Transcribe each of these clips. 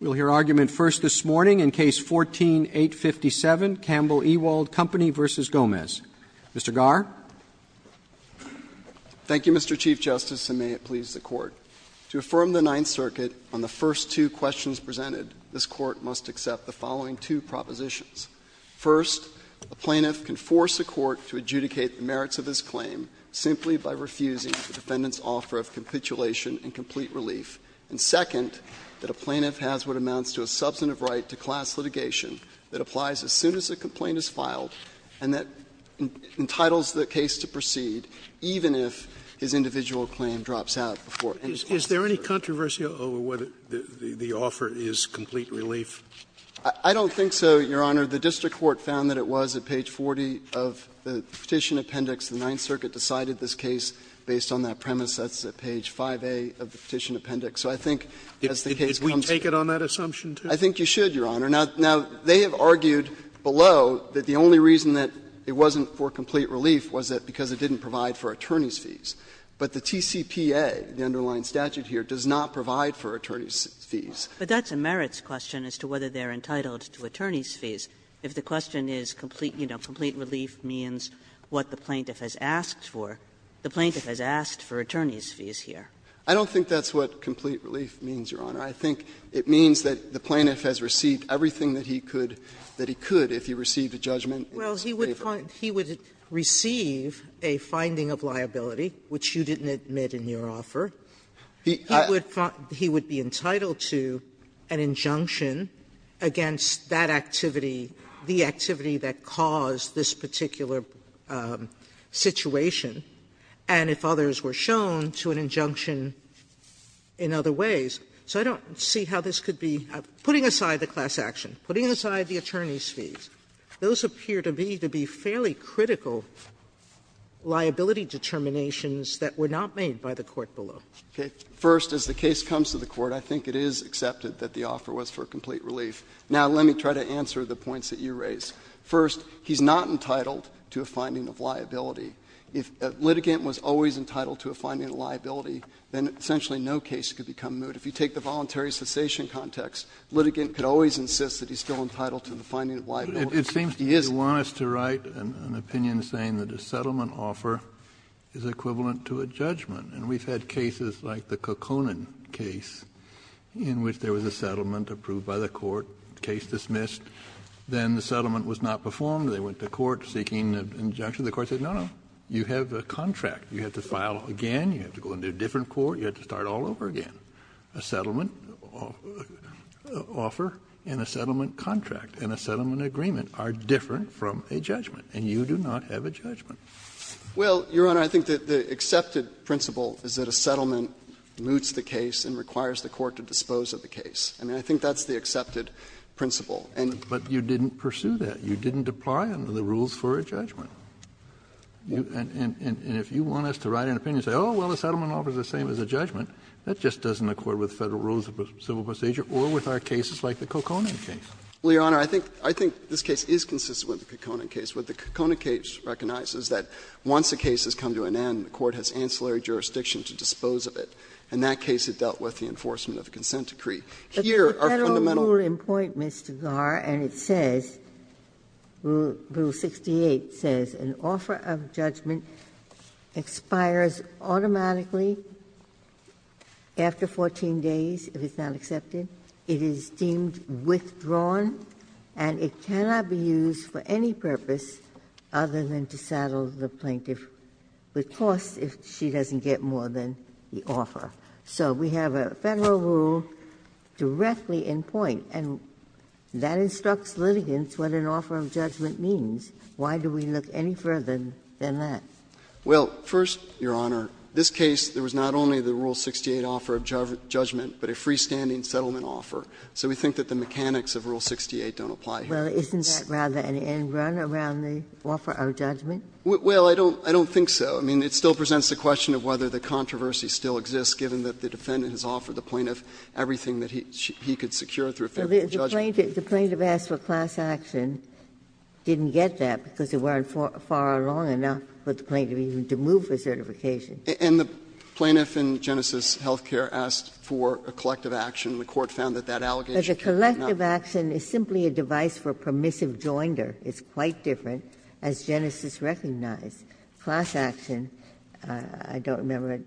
We'll hear argument first this morning in Case 14-857, Campbell-Ewald Company v. Gomez. Mr. Garre. Thank you, Mr. Chief Justice, and may it please the Court. To affirm the Ninth Circuit on the first two questions presented, this Court must accept the following two propositions. First, a plaintiff can force a court to adjudicate the merits of his claim simply by refusing the defendant's offer of capitulation and complete relief. And second, that a plaintiff has what amounts to a substantive right to class litigation that applies as soon as a complaint is filed and that entitles the case to proceed, even if his individual claim drops out before any court is concerned. Scalia. Is there any controversy over whether the offer is complete relief? Garre. I don't think so, Your Honor. The district court found that it was at page 40 of the Petition Appendix. The Ninth Circuit decided this case based on that premise. That's at page 5A of the Petition Appendix. So I think as the case comes to court. Scalia. Did we take it on that assumption, too? Garre. I think you should, Your Honor. Now, they have argued below that the only reason that it wasn't for complete relief was that because it didn't provide for attorney's fees. But the TCPA, the underlying statute here, does not provide for attorney's fees. Kagan. But that's a merits question as to whether they're entitled to attorney's fees. If the question is, you know, complete relief means what the plaintiff has asked for, the plaintiff has asked for attorney's fees here. Garre. I don't think that's what complete relief means, Your Honor. I think it means that the plaintiff has received everything that he could, that he could if he received a judgment in this case. Sotomayor. Well, he would receive a finding of liability, which you didn't admit in your offer. He would be entitled to an injunction against that activity, the activity that caused this particular situation, and if others were shown, to an injunction in other ways. So I don't see how this could be — putting aside the class action, putting aside the attorney's fees, those appear to be fairly critical liability determinations that were not made by the court below. First, as the case comes to the Court, I think it is accepted that the offer was for complete relief. Now, let me try to answer the points that you raise. First, he's not entitled to a finding of liability. If a litigant was always entitled to a finding of liability, then essentially no case could become moot. If you take the voluntary cessation context, litigant could always insist that he's still entitled to the finding of liability. He isn't. Kennedy, you want us to write an opinion saying that a settlement offer is equivalent to a judgment. And we've had cases like the Kokkonen case in which there was a settlement approved by the court, case dismissed. Then the settlement was not performed. They went to court seeking an injunction. The court said, no, no, you have a contract. You have to file again. You have to go into a different court. You have to start all over again. A settlement offer and a settlement contract and a settlement agreement are different from a judgment, and you do not have a judgment. Well, Your Honor, I think that the accepted principle is that a settlement moots the case and requires the court to dispose of the case. I mean, I think that's the accepted principle. Kennedy, but you didn't pursue that. You didn't apply under the rules for a judgment. And if you want us to write an opinion and say, oh, well, a settlement offer is the same as a judgment, that just doesn't accord with Federal rules of civil procedure or with our cases like the Kokkonen case. Well, Your Honor, I think this case is consistent with the Kokkonen case. What the Kokkonen case recognizes is that once a case has come to an end, the court has ancillary jurisdiction to dispose of it. In that case, it dealt with the enforcement of a consent decree. Here, our fundamental rules are different. They are, and it says, Rule 68 says, an offer of judgment expires automatically after 14 days if it's not accepted. It is deemed withdrawn, and it cannot be used for any purpose other than to saddle the plaintiff with costs if she doesn't get more than the offer. So we have a Federal rule directly in point. And that instructs litigants what an offer of judgment means. Why do we look any further than that? Well, first, Your Honor, this case, there was not only the Rule 68 offer of judgment, but a freestanding settlement offer. So we think that the mechanics of Rule 68 don't apply here. Well, isn't that rather an end run around the offer of judgment? Well, I don't think so. I mean, it still presents the question of whether the controversy still exists, given that the defendant has offered the plaintiff everything that he could secure through a favorable judgment. The plaintiff asked for class action, didn't get that because they weren't far along enough for the plaintiff even to move the certification. And the plaintiff in Genesis Health Care asked for a collective action. The Court found that that allegation cannot be denied. But a collective action is simply a device for permissive joinder. It's quite different, as Genesis recognized. Class action, I don't remember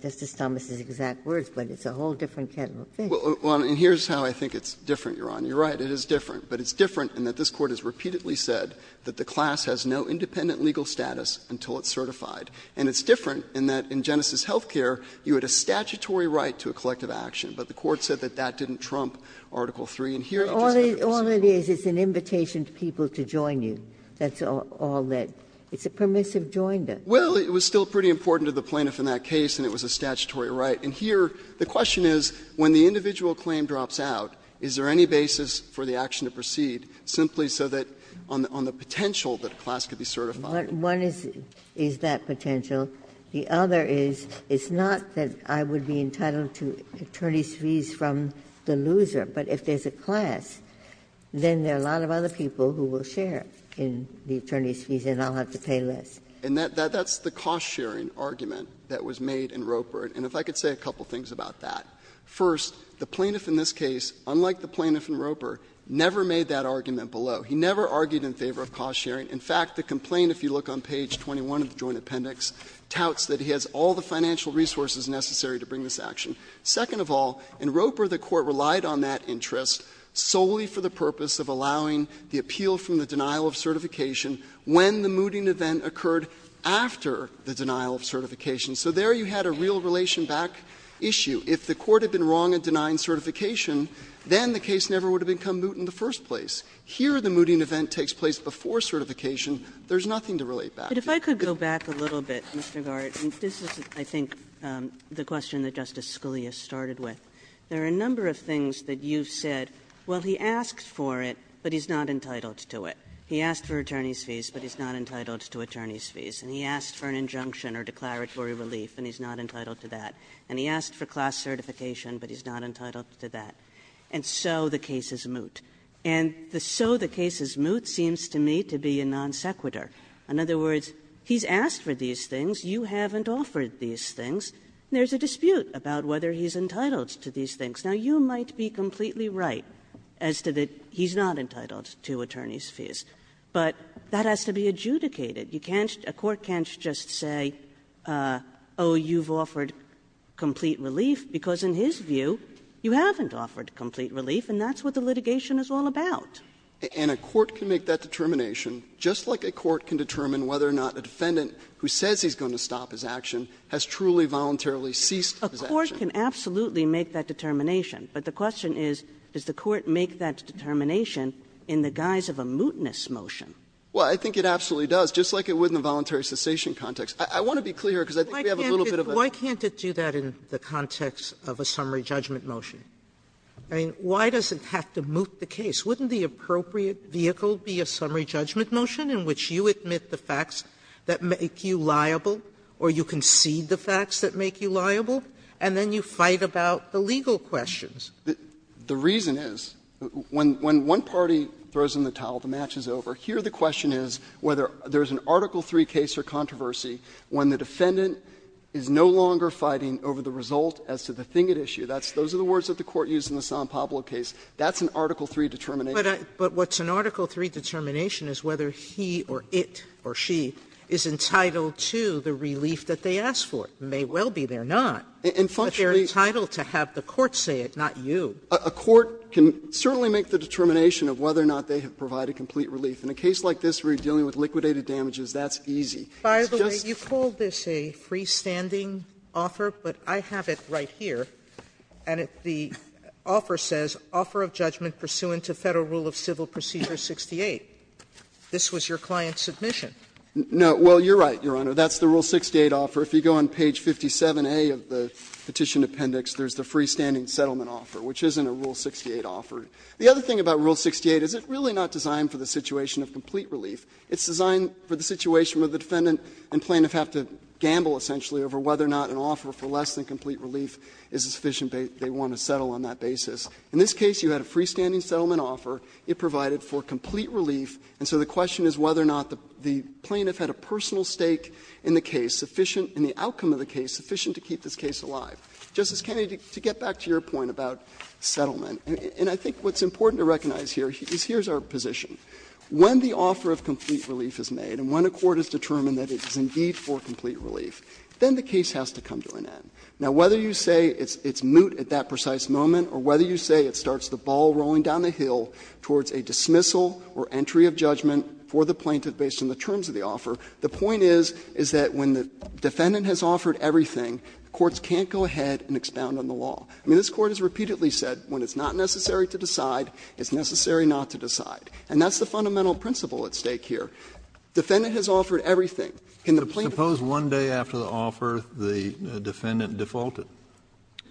Justice Thomas's exact words, but it's a whole different kind of thing. Well, and here's how I think it's different, Your Honor. You're right, it is different. But it's different in that this Court has repeatedly said that the class has no independent legal status until it's certified. And it's different in that in Genesis Health Care, you had a statutory right to a collective action, but the Court said that that didn't trump Article III. And here it does not do the same. All it is, it's an invitation to people to join you. That's all that – it's a permissive joinder. Well, it was still pretty important to the plaintiff in that case, and it was a statutory right. And here, the question is, when the individual claim drops out, is there any basis for the action to proceed, simply so that on the potential that a class could be certified? One is that potential. The other is, it's not that I would be entitled to attorney's fees from the loser. But if there's a class, then there are a lot of other people who will share in the attorney's fees and I'll have to pay less. And that's the cost-sharing argument that was made in Roper. And if I could say a couple of things about that. First, the plaintiff in this case, unlike the plaintiff in Roper, never made that argument below. He never argued in favor of cost-sharing. In fact, the complaint, if you look on page 21 of the Joint Appendix, touts that he has all the financial resources necessary to bring this action. Second of all, in Roper, the Court relied on that interest solely for the purpose of allowing the appeal from the denial of certification when the mooting event occurred after the denial of certification. So there you had a real relation back issue. If the Court had been wrong in denying certification, then the case never would have become moot in the first place. Here, the mooting event takes place before certification. There's nothing to relate back to. Kagan. But if I could go back a little bit, Mr. Garrett, and this is, I think, the question that Justice Scalia started with. There are a number of things that you've said, well, he asked for it, but he's not He asked for attorney's fees, but he's not entitled to attorney's fees. And he asked for an injunction or declaratory relief, and he's not entitled to that. And he asked for class certification, but he's not entitled to that. And so the case is moot. And the so the case is moot seems to me to be a non sequitur. In other words, he's asked for these things, you haven't offered these things, and there's a dispute about whether he's entitled to these things. Now, you might be completely right as to that he's not entitled to attorney's fees, but that has to be adjudicated. You can't, a court can't just say, oh, you've offered complete relief, because in his view, you haven't offered complete relief, and that's what the litigation is all about. And a court can make that determination, just like a court can determine whether or not a defendant who says he's going to stop his action has truly voluntarily ceased his action. A court can absolutely make that determination, but the question is, does the court make that determination in the guise of a mootness motion? Well, I think it absolutely does, just like it would in the voluntary cessation context. I want to be clear, because I think we have a little bit of a difference. Sotomayor, why can't it do that in the context of a summary judgment motion? I mean, why does it have to moot the case? Wouldn't the appropriate vehicle be a summary judgment motion in which you admit the facts that make you liable, or you concede the facts that make you liable, and then you fight about the legal questions? The reason is, when one party throws in the towel, the match is over. Here, the question is whether there's an Article III case or controversy when the defendant is no longer fighting over the result as to the thing at issue. Those are the words that the Court used in the San Pablo case. That's an Article III determination. Sotomayor, but what's an Article III determination is whether he or it or she is entitled to the relief that they asked for. It may well be they're not, but they're entitled to have the court say it, not you. A court can certainly make the determination of whether or not they have provided a complete relief. In a case like this where you're dealing with liquidated damages, that's easy. Sotomayor, you call this a freestanding offer, but I have it right here, and the offer says, Offer of Judgment Pursuant to Federal Rule of Civil Procedure 68. This was your client's submission. No. Well, you're right, Your Honor. That's the Rule 68 offer. If you go on page 57A of the Petition Appendix, there's the freestanding settlement offer, which isn't a Rule 68 offer. The other thing about Rule 68 is it's really not designed for the situation of complete relief. It's designed for the situation where the defendant and plaintiff have to gamble, essentially, over whether or not an offer for less than complete relief is sufficient that they want to settle on that basis. In this case, you had a freestanding settlement offer. It provided for complete relief, and so the question is whether or not the plaintiff had a personal stake in the case, sufficient in the outcome of the case, sufficient to keep this case alive. Justice Kennedy, to get back to your point about settlement, and I think there's something that's important to recognize here, is here's our position. When the offer of complete relief is made and when a court has determined that it is indeed for complete relief, then the case has to come to an end. Now, whether you say it's moot at that precise moment or whether you say it starts the ball rolling down the hill towards a dismissal or entry of judgment for the plaintiff based on the terms of the offer, the point is, is that when the defendant has offered everything, courts can't go ahead and expound on the law. I mean, this Court has repeatedly said when it's not necessary to decide, it's necessary not to decide. And that's the fundamental principle at stake here. Defendant has offered everything. Can the plaintiff Kennedy, suppose one day after the offer, the defendant defaulted?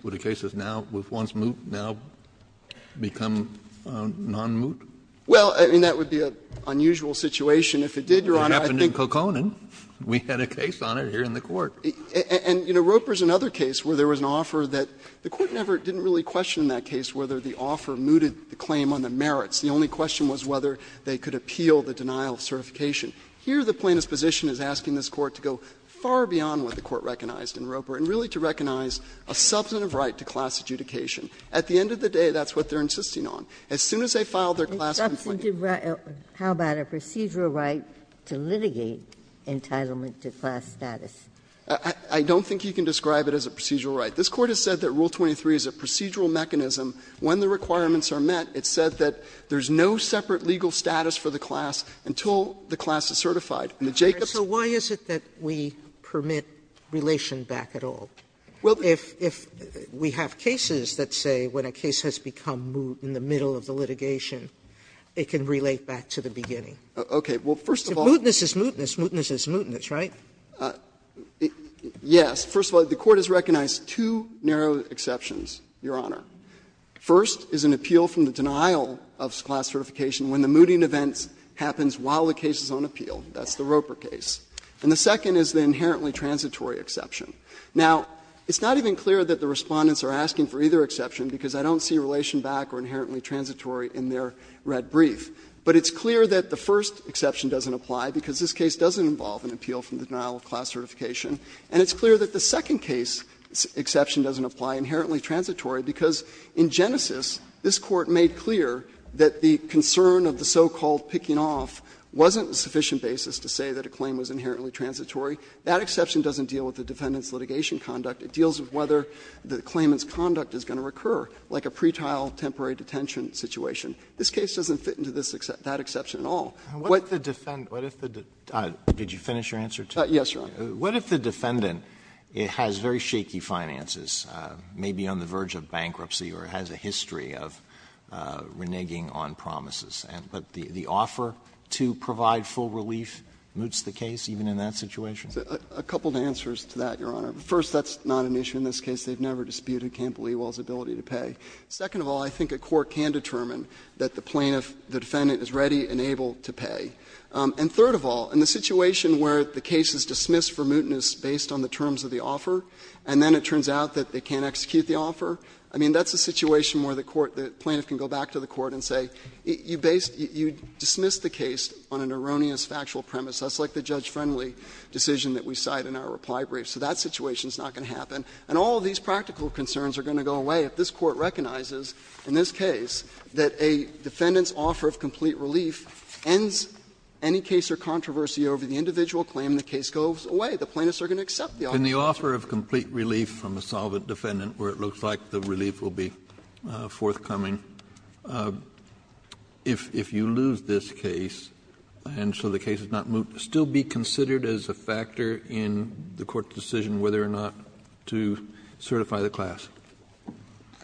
Would a case that's now, was once moot, now become non-moot? Well, I mean, that would be an unusual situation. If it did, Your Honor, I think It happened in Kokonin. We had a case on it here in the Court. And, you know, Roper's another case where there was an offer that the Court never didn't really question in that case whether the offer mooted the claim on the merits. The only question was whether they could appeal the denial of certification. Here, the plaintiff's position is asking this Court to go far beyond what the Court recognized in Roper, and really to recognize a substantive right to class adjudication. At the end of the day, that's what they're insisting on. As soon as they file their class complaint A substantive right, how about a procedural right to litigate entitlement to class status? I don't think you can describe it as a procedural right. This Court has said that Rule 23 is a procedural mechanism. When the requirements are met, it said that there's no separate legal status for the class until the class is certified. And the Jacobs Sotomayor, so why is it that we permit relation back at all? If we have cases that say when a case has become moot in the middle of the litigation, it can relate back to the beginning. Okay. Well, first of all If mootness is mootness, mootness is mootness, right? Yes. First of all, the Court has recognized two narrow exceptions, Your Honor. First is an appeal from the denial of class certification when the mooting event happens while the case is on appeal. That's the Roper case. And the second is the inherently transitory exception. Now, it's not even clear that the Respondents are asking for either exception because I don't see relation back or inherently transitory in their red brief. But it's clear that the first exception doesn't apply because this case doesn't involve an appeal from the denial of class certification. And it's clear that the second case exception doesn't apply, inherently transitory, because in Genesis, this Court made clear that the concern of the so-called picking off wasn't a sufficient basis to say that a claim was inherently transitory. That exception doesn't deal with the defendant's litigation conduct. It deals with whether the claimant's conduct is going to recur, like a pretrial temporary detention situation. This case doesn't fit into that exception at all. Alito, what if the defendant — did you finish your answer, too? Yes, Your Honor. What if the defendant has very shaky finances, may be on the verge of bankruptcy or has a history of reneging on promises, but the offer to provide full relief moots the case even in that situation? A couple of answers to that, Your Honor. First, that's not an issue in this case. They've never disputed Campbell-Ewall's ability to pay. The defendant is ready and able to pay. And third of all, in the situation where the case is dismissed for mootness based on the terms of the offer, and then it turns out that they can't execute the offer, I mean, that's a situation where the court — the plaintiff can go back to the court and say, you dismissed the case on an erroneous factual premise. That's like the judge-friendly decision that we cite in our reply brief. So that situation is not going to happen. And all of these practical concerns are going to go away if this Court recognizes in this case that a defendant's offer of complete relief ends any case or controversy over the individual claim, the case goes away. The plaintiffs are going to accept the offer. Kennedy, in the offer of complete relief from a solvent defendant where it looks like the relief will be forthcoming, if you lose this case and so the case is not moot, would it still be considered as a factor in the Court's decision whether or not to certify the class?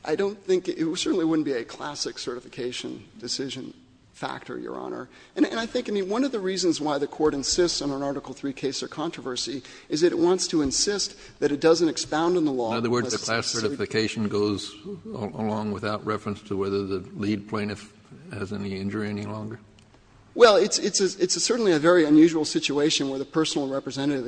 I don't think — it certainly wouldn't be a classic certification decision factor, Your Honor. And I think, I mean, one of the reasons why the Court insists on an Article III case or controversy is that it wants to insist that it doesn't expound on the law unless it's a certain case. Kennedy, in other words, the class certification goes along without reference to whether the lead plaintiff has any injury any longer? Well, it's a — it's certainly a very unusual situation where the personal representative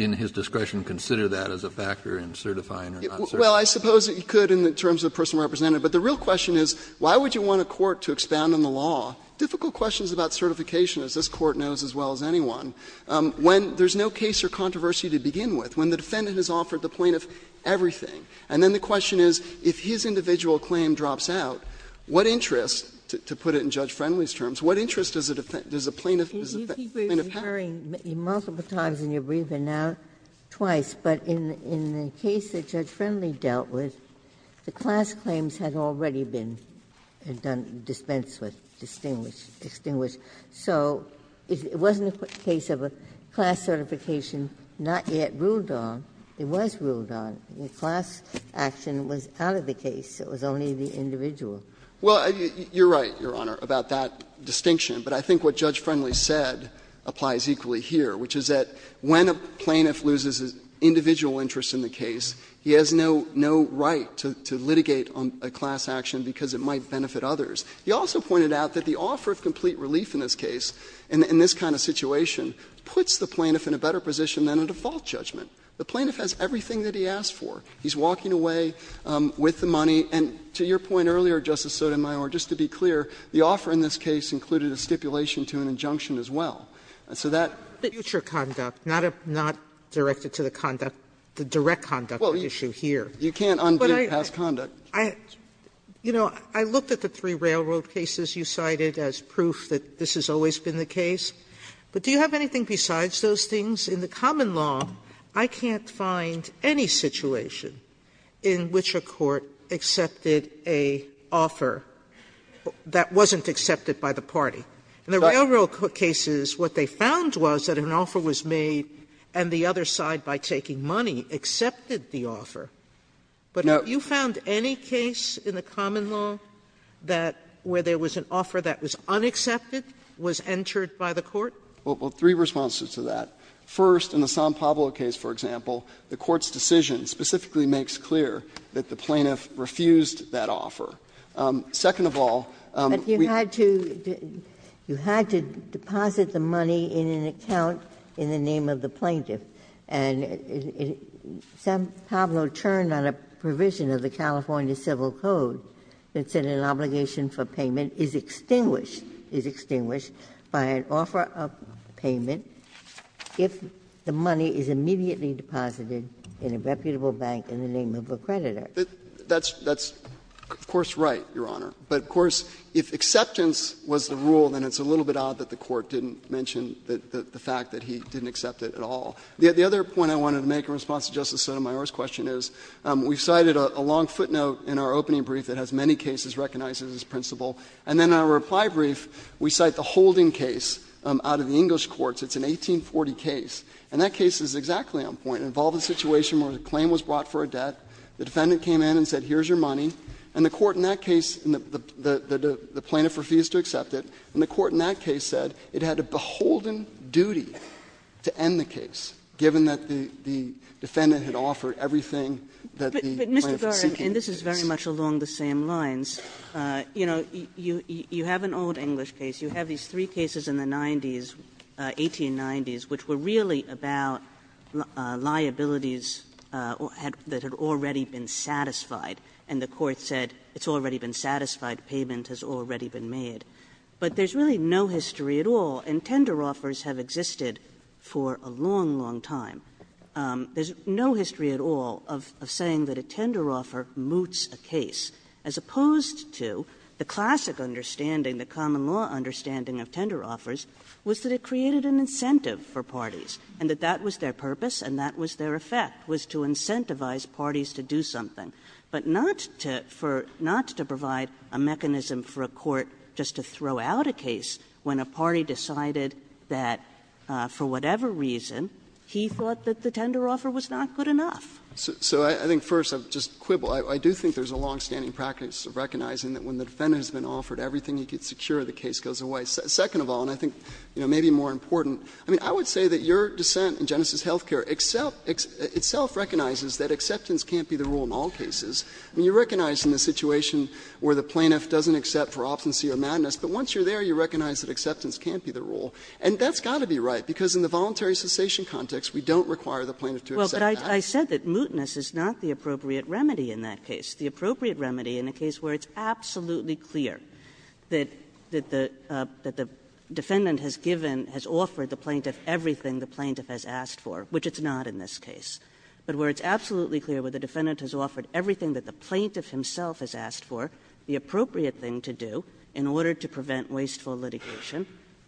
in his discretion consider that as a factor in certifying or not certifying. Well, I suppose it could in terms of the personal representative, but the real question is, why would you want a court to expound on the law? Difficult questions about certification, as this Court knows as well as anyone, when there's no case or controversy to begin with, when the defendant has offered the plaintiff everything. And then the question is, if his individual claim drops out, what interest, to put it in Judge Friendly's terms, what interest does a plaintiff have? And if he was incurring multiple times in your brief and now twice, but in the case that Judge Friendly dealt with, the class claims had already been dispensed with, distinguished, extinguished. So it wasn't a case of a class certification not yet ruled on. It was ruled on. The class action was out of the case. It was only the individual. Well, you're right, Your Honor, about that distinction. But I think what Judge Friendly said applies equally here, which is that when a plaintiff loses individual interest in the case, he has no right to litigate on a class action because it might benefit others. He also pointed out that the offer of complete relief in this case, in this kind of situation, puts the plaintiff in a better position than a default judgment. The plaintiff has everything that he asked for. He's walking away with the money. And to your point earlier, Justice Sotomayor, just to be clear, the offer in this case included a stipulation to an injunction as well. So that's future conduct, not directed to the conduct, the direct conduct issue here. You can't undo past conduct. Sotomayor, you know, I looked at the three railroad cases you cited as proof that this has always been the case. But do you have anything besides those things? In the common law, I can't find any situation in which a court accepted an offer that wasn't accepted by the party. In the railroad cases, what they found was that an offer was made and the other side, by taking money, accepted the offer. But have you found any case in the common law that where there was an offer that was unaccepted was entered by the court? Well, three responses to that. First, in the San Pablo case, for example, the court's decision specifically makes clear that the plaintiff refused that offer. Second of all, we had to do you had to deposit the money in an account in the name of the plaintiff. And San Pablo turned on a provision of the California Civil Code that said an obligation for payment is extinguished, is extinguished by an offer of payment if the money is immediately deposited in a reputable bank in the name of a creditor. That's of course right, Your Honor. But of course, if acceptance was the rule, then it's a little bit odd that the court didn't mention the fact that he didn't accept it at all. The other point I wanted to make in response to Justice Sotomayor's question is we cited a long footnote in our opening brief that has many cases recognized as its principle. And then in our reply brief, we cite the holding case out of the English courts. It's an 1840 case, and that case is exactly on point. It involved a situation where a claim was brought for a debt. The defendant came in and said, here's your money, and the court in that case and the plaintiff refused to accept it, and the court in that case said it had a beholden duty to end the case, given that the defendant had offered everything that the plaintiff was seeking. Kagan, and this is very much along the same lines, you know, you have an old English case. You have these three cases in the 90s, 1890s, which were really about liabilities that had already been satisfied, and the court said it's already been satisfied, payment has already been made. But there's really no history at all, and tender offers have existed for a long, long time. There's no history at all of saying that a tender offer moots a case, as opposed to the classic understanding, the common law understanding of tender offers, was that it created an incentive for parties, and that that was their purpose and that was their effect, was to incentivize parties to do something, but not to provide a mechanism for a court just to throw out a case when a party decided that, for whatever reason, he thought that the tender offer was not good enough. Phillips, I think, first, I would just quibble. I do think there's a longstanding practice of recognizing that when the defendant has been offered everything he could secure, the case goes away. Second of all, and I think, you know, maybe more important, I mean, I would say that your dissent in Genesis Health Care itself recognizes that acceptance can't be the rule in all cases. I mean, you recognize in the situation where the plaintiff doesn't accept for obstinacy or madness, but once you're there, you recognize that acceptance can't be the rule. And that's got to be right, because in the voluntary cessation context, we don't require the plaintiff to accept that. Kaganer, I said that mootness is not the appropriate remedy in that case. It's the appropriate remedy in a case where it's absolutely clear that the defendant has given, has offered the plaintiff everything the plaintiff has asked for, which it's not in this case. But where it's absolutely clear where the defendant has offered everything that the plaintiff himself has asked for, the appropriate thing to do in order to prevent wasteful litigation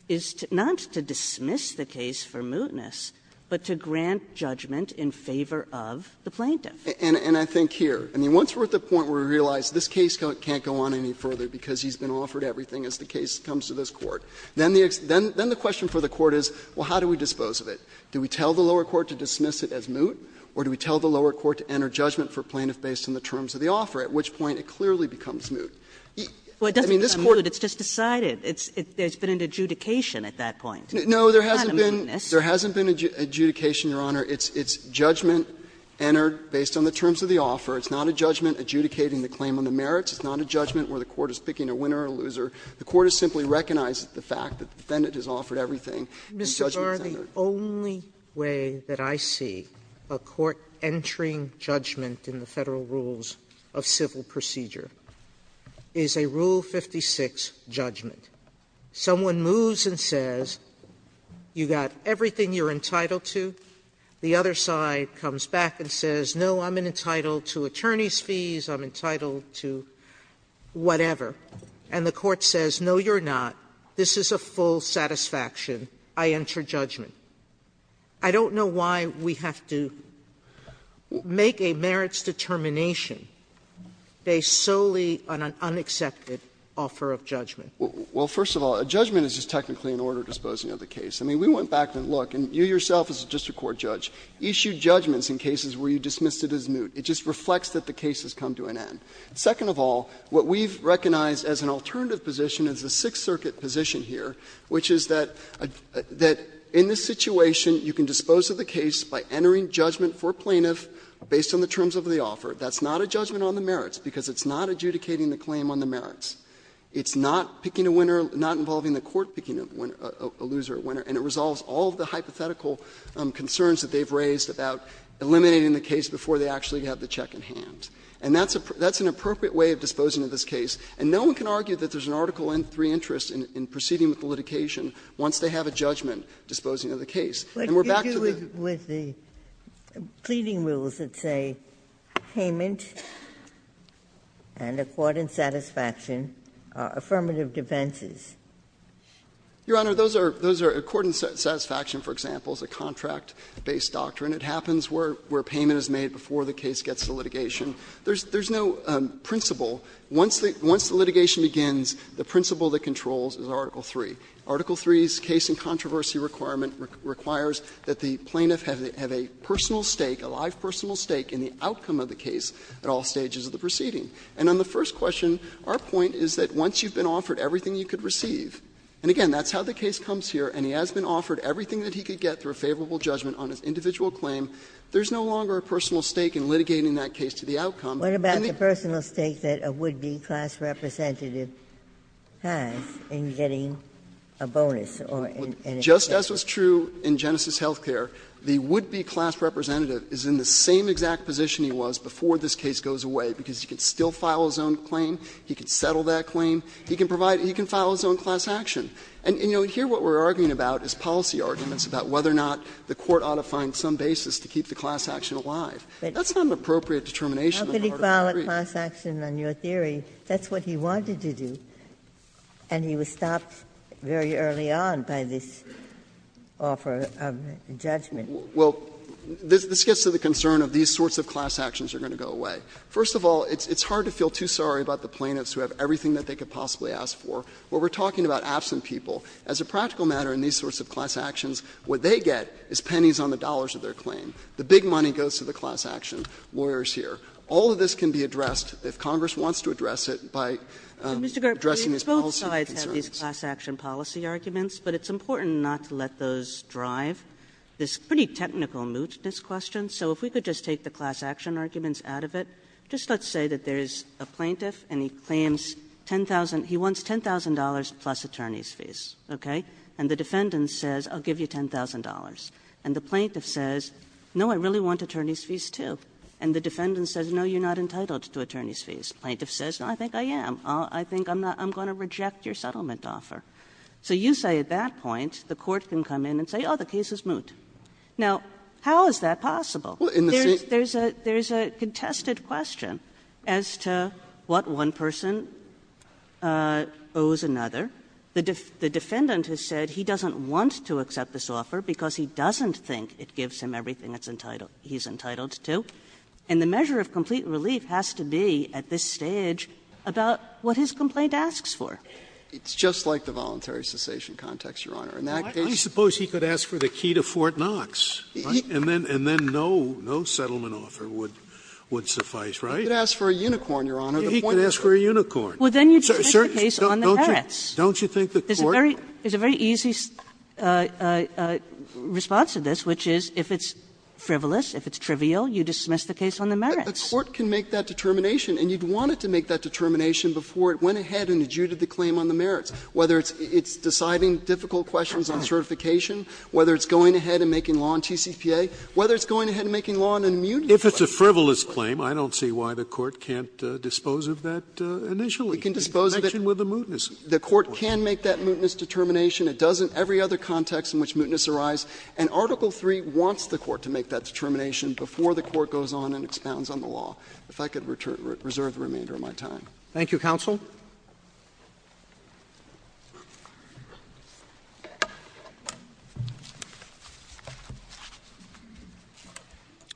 is not to dismiss the case for mootness, but to grant judgment in favor of the plaintiff. And I think here, I mean, once we're at the point where we realize this case can't go on any further because he's been offered everything as the case comes to this Court, then the question for the Court is, well, how do we dispose of it? Do we tell the lower court to dismiss it as moot, or do we tell the lower court to enter judgment for plaintiff based on the terms of the offer, at which point it clearly becomes moot? I mean, this Court doesn't have moot, it's just decided. There's been an adjudication at that point. It's not a mootness. There hasn't been an adjudication, Your Honor. It's judgment entered based on the terms of the offer. It's not a judgment adjudicating the claim on the merits. It's not a judgment where the Court is picking a winner or a loser. The Court has simply recognized the fact that the defendant has offered everything and judgment's entered. Sotomayor, the only way that I see a court entering judgment in the Federal Rules of Civil Procedure is a Rule 56 judgment. Someone moves and says, you got everything you're entitled to, the other side comes back and says, no, I'm entitled to attorney's fees, I'm entitled to whatever, and the court says, no, you're not, this is a full satisfaction, I enter judgment. I don't know why we have to make a merits determination based solely on an unaccepted offer of judgment. Well, first of all, a judgment is just technically an order of disposing of the case. I mean, we went back and looked, and you yourself as a district court judge issued judgments in cases where you dismissed it as moot. It just reflects that the case has come to an end. Second of all, what we've recognized as an alternative position is the Sixth Circuit position here, which is that in this situation you can dispose of the case by entering judgment for a plaintiff based on the terms of the offer. That's not a judgment on the merits, because it's not adjudicating the claim on the merits. It's not picking a winner, not involving the court picking a winner, a loser, a winner, and it resolves all of the hypothetical concerns that they've raised about eliminating the case before they actually have the check in hand. And that's an appropriate way of disposing of this case, and no one can argue that there's an Article III interest in proceeding with the litigation once they have a judgment disposing of the case. And we're back to the other. Ginsburg, what are the pleading rules that say payment and accord and satisfaction are affirmative defenses? Your Honor, those are accord and satisfaction, for example, is a contract-based doctrine. It happens where payment is made before the case gets to litigation. There's no principle. Once the litigation begins, the principle that controls is Article III. Article III's case and controversy requirement requires that the plaintiff have a personal stake, a live personal stake in the outcome of the case at all stages of the proceeding. And on the first question, our point is that once you've been offered everything you could receive, and again, that's how the case comes here, and he has been offered everything that he could get through a favorable judgment on his individual claim, there's no longer a personal stake in litigating that case to the outcome. Ginsburg, what about the personal stake that a would-be class representative has in getting a bonus or an exception? Just as was true in Genesis Healthcare, the would-be class representative is in the same exact position he was before this case goes away, because he can still file his own claim, he can settle that claim, he can file his own class action. And, you know, here what we're arguing about is policy arguments about whether or not the court ought to find some basis to keep the class action alive. That's not an appropriate determination on the part of the jury. Ginsburg, how could he file a class action on your theory? That's what he wanted to do, and he was stopped very early on by this offer of judgment. Well, this gets to the concern of these sorts of class actions are going to go away. First of all, it's hard to feel too sorry about the plaintiffs who have everything that they could possibly ask for. When we're talking about absent people, as a practical matter in these sorts of class actions, what they get is pennies on the dollars of their claim. The big money goes to the class action lawyers here. All of this can be addressed, if Congress wants to address it, by addressing Kagan. Kagan. But it's important not to let those drive this pretty technical mootness question. So if we could just take the class action arguments out of it. Just let's say that there is a plaintiff and he claims $10,000, he wants $10,000 plus attorney's fees, okay? And the defendant says, I'll give you $10,000. And the plaintiff says, no, I really want attorney's fees, too. And the defendant says, no, you're not entitled to attorney's fees. Plaintiff says, no, I think I am. I think I'm going to reject your settlement offer. So you say at that point, the court can come in and say, oh, the case is moot. Now, how is that possible? There's a contested question as to what one person owes another. The defendant has said he doesn't want to accept this offer because he doesn't think it gives him everything it's entitled to, he's entitled to. And the measure of complete relief has to be, at this stage, about what his complaint asks for. It's just like the voluntary cessation context, Your Honor. In that case he could ask for the key to Fort Knox, right? And then no settlement offer would suffice, right? He could ask for a unicorn, Your Honor. He could ask for a unicorn. Well, then you just take the case on the parrots. Don't you think the court There's a very easy response to this, which is if it's frivolous, if it's trivial, you dismiss the case on the merits. But the court can make that determination, and you'd want it to make that determination before it went ahead and adjudicated the claim on the merits, whether it's deciding difficult questions on certification, whether it's going ahead and making law on TCPA, whether it's going ahead and making law on an immunity claim. If it's a frivolous claim, I don't see why the court can't dispose of that initially. It can dispose of it. Even with the mootness, the court can make that mootness determination. It does in every other context in which mootness arises. And Article III wants the court to make that determination before the court goes on and expounds on the law. If I could reserve the remainder of my time. Thank you, counsel.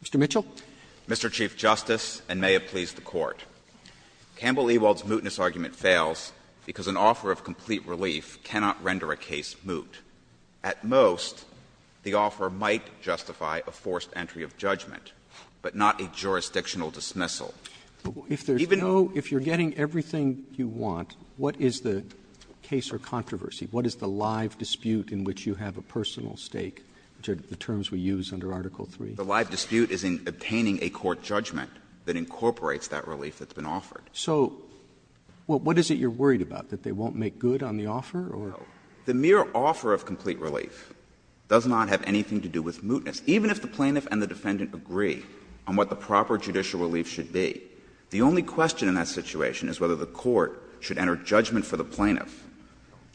Mr. Mitchell. Mr. Chief Justice, and may it please the Court. Campbell-Ewald's mootness argument fails because an offer of complete relief cannot render a case moot. At most, the offer might justify a forced entry of judgment, but not a jurisdictional dismissal. Even though you know if you're getting everything you want, what is the case or controversy? What is the live dispute in which you have a personal stake, which are the terms we use under Article III? The live dispute is in obtaining a court judgment that incorporates that relief that's been offered. So what is it you're worried about, that they won't make good on the offer or? The mere offer of complete relief does not have anything to do with mootness. Even if the plaintiff and the defendant agree on what the proper judicial relief should be, the only question in that situation is whether the court should enter judgment for the plaintiff,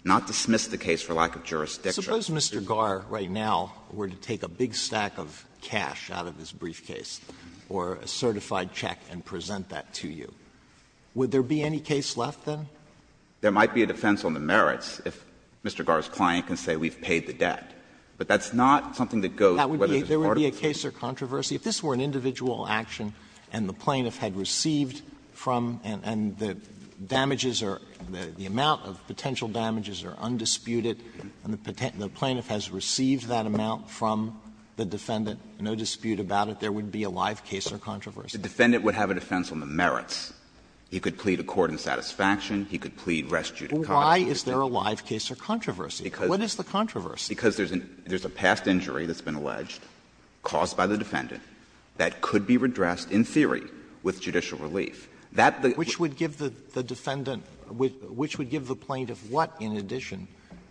not dismiss the case for lack of jurisdiction. Sotomayor, suppose Mr. Garr, right now, were to take a big stack of cash out of his briefcase or a certified check and present that to you. Would there be any case left, then? There might be a defense on the merits if Mr. Garr's client can say we've paid the debt, but that's not something that goes whether there's a part of it. There would be a case or controversy. If this were an individual action and the plaintiff had received from and the damages are, the amount of potential damages are undisputed, and the plaintiff has received that amount from the defendant, no dispute about it, there would be a live case or controversy. The defendant would have a defense on the merits. He could plead a court in satisfaction, he could plead rest judicata. Well, why is there a live case or controversy? What is the controversy? Because there's a past injury that's been alleged, caused by the defendant, that could be redressed in theory with judicial relief. That the ---- Sotomayor, which would give the defendant the plaintiff what in addition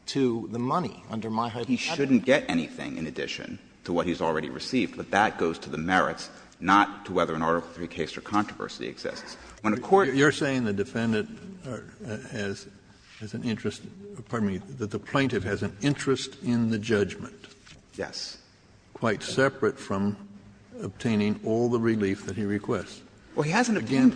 to the money under my hypothesis? He shouldn't get anything in addition to what he's already received, but that goes to the merits, not to whether an Article III case or controversy exists. When a court ---- Kennedy, you're saying the defendant has an interest, pardon me, that the plaintiff has an interest in the judgment. Yes. Well, he hasn't obtained the relief.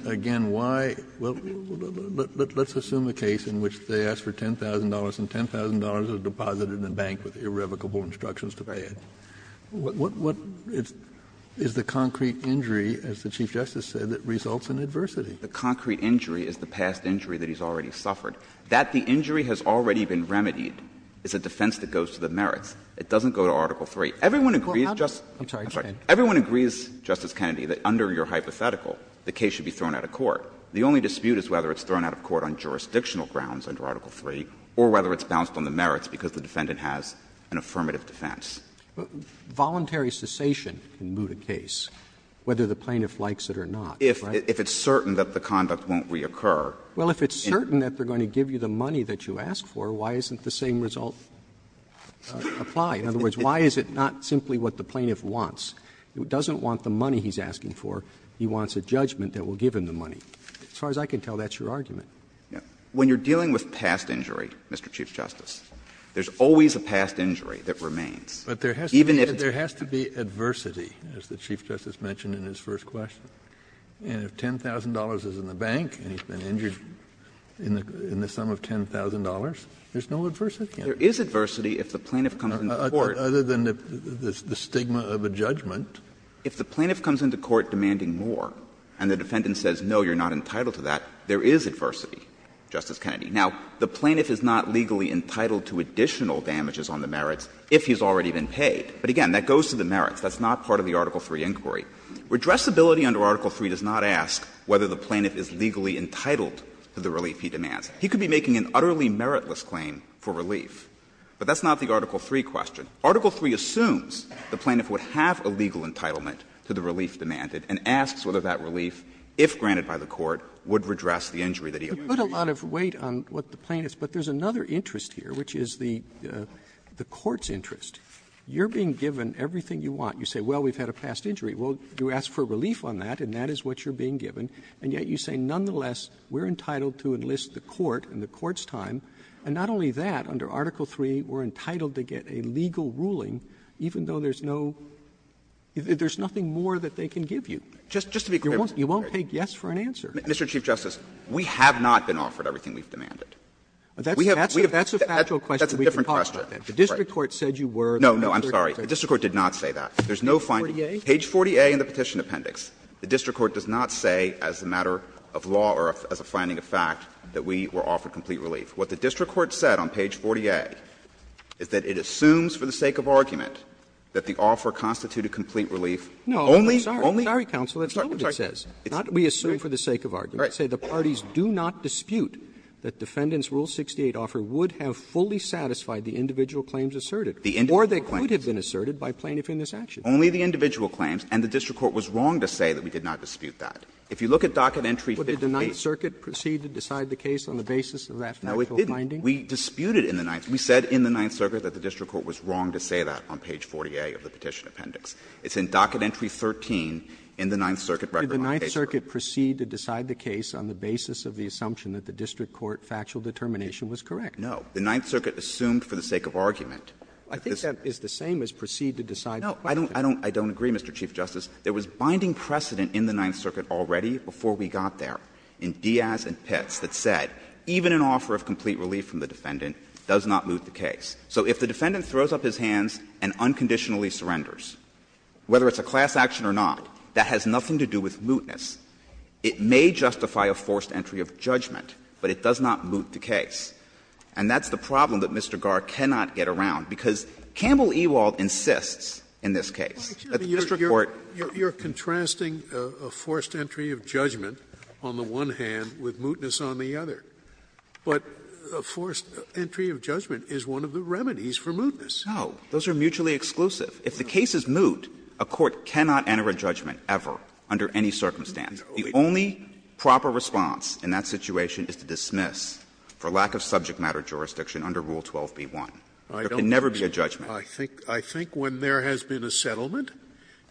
Again, why ---- let's assume a case in which they ask for $10,000 and $10,000 is deposited in a bank with irrevocable instructions to pay it. What is the concrete injury, as the Chief Justice said, that results in adversity? The concrete injury is the past injury that he's already suffered. That the injury has already been remedied is a defense that goes to the merits. It doesn't go to Article III. Everyone agrees, Justice ---- I'm sorry. Everyone agrees, Justice Kennedy, that under your hypothetical, the case should be thrown out of court. The only dispute is whether it's thrown out of court on jurisdictional grounds under Article III or whether it's bounced on the merits because the defendant has an affirmative defense. Voluntary cessation can moot a case, whether the plaintiff likes it or not, right? If it's certain that the conduct won't reoccur. Well, if it's certain that they're going to give you the money that you ask for, why isn't the same result applied? In other words, why is it not simply what the plaintiff wants? It doesn't want the money he's asking for. He wants a judgment that will give him the money. As far as I can tell, that's your argument. When you're dealing with past injury, Mr. Chief Justice, there's always a past injury that remains. Even if it's not. But there has to be adversity, as the Chief Justice mentioned in his first question. And if $10,000 is in the bank and he's been injured in the sum of $10,000, there's no adversity. There is adversity if the plaintiff comes into court. Kennedy. Other than the stigma of a judgment. If the plaintiff comes into court demanding more and the defendant says, no, you're not entitled to that, there is adversity, Justice Kennedy. Now, the plaintiff is not legally entitled to additional damages on the merits if he's already been paid. But again, that goes to the merits. That's not part of the Article III inquiry. Redressability under Article III does not ask whether the plaintiff is legally entitled to the relief he demands. He could be making an utterly meritless claim for relief, but that's not the Article III question. Article III assumes the plaintiff would have a legal entitlement to the relief demanded and asks whether that relief, if granted by the Court, would redress the injury that he owed. Roberts. You put a lot of weight on what the plaintiff's, but there's another interest here, which is the Court's interest. You're being given everything you want. You say, well, we've had a past injury. Well, you ask for relief on that, and that is what you're being given. And yet you say, nonetheless, we're entitled to enlist the Court in the Court's time, and not only that, under Article III, we're entitled to get a legal ruling even though there's no – there's nothing more that they can give you. You won't take yes for an answer. Just to be clear, Mr. Chief Justice, we have not been offered everything we've demanded. We have – we have – that's a different question. The district court said you were. No, no, I'm sorry. The district court did not say that. There's no finding. As a matter of law or as a finding of fact, that we were offered complete relief. What the district court said on page 40A is that it assumes for the sake of argument that the offer constituted complete relief only – only – No, I'm sorry, counsel, that's not what it says. It's not we assume for the sake of argument. It says the parties do not dispute that Defendant's Rule 68 offer would have fully satisfied the individual claims asserted, or they could have been asserted by plaintiff in this action. Only the individual claims, and the district court was wrong to say that we did not dispute that. If you look at docket entry 58 – Well, did the Ninth Circuit proceed to decide the case on the basis of that factual No, it didn't. We disputed in the Ninth – we said in the Ninth Circuit that the district court was wrong to say that on page 40A of the petition appendix. It's in docket entry 13 in the Ninth Circuit record on page 40A. Did the Ninth Circuit proceed to decide the case on the basis of the assumption that the district court factual determination was correct? No. The Ninth Circuit assumed for the sake of argument. I think that is the same as proceed to decide the question. No, I don't – I don't agree, Mr. Chief Justice. There was binding precedent in the Ninth Circuit already before we got there in Diaz and Pitts that said even an offer of complete relief from the defendant does not moot the case. So if the defendant throws up his hands and unconditionally surrenders, whether it's a class action or not, that has nothing to do with mootness. It may justify a forced entry of judgment, but it does not moot the case. And that's the problem that Mr. Garre cannot get around, because Campbell Ewald insists in this case that the district court – Scalia, you're contrasting a forced entry of judgment on the one hand with mootness on the other. But a forced entry of judgment is one of the remedies for mootness. No. Those are mutually exclusive. If the case is moot, a court cannot enter a judgment ever under any circumstance. The only proper response in that situation is to dismiss for lack of subject matter jurisdiction under Rule 12b-1. There can never be a judgment. Scalia, I think when there has been a settlement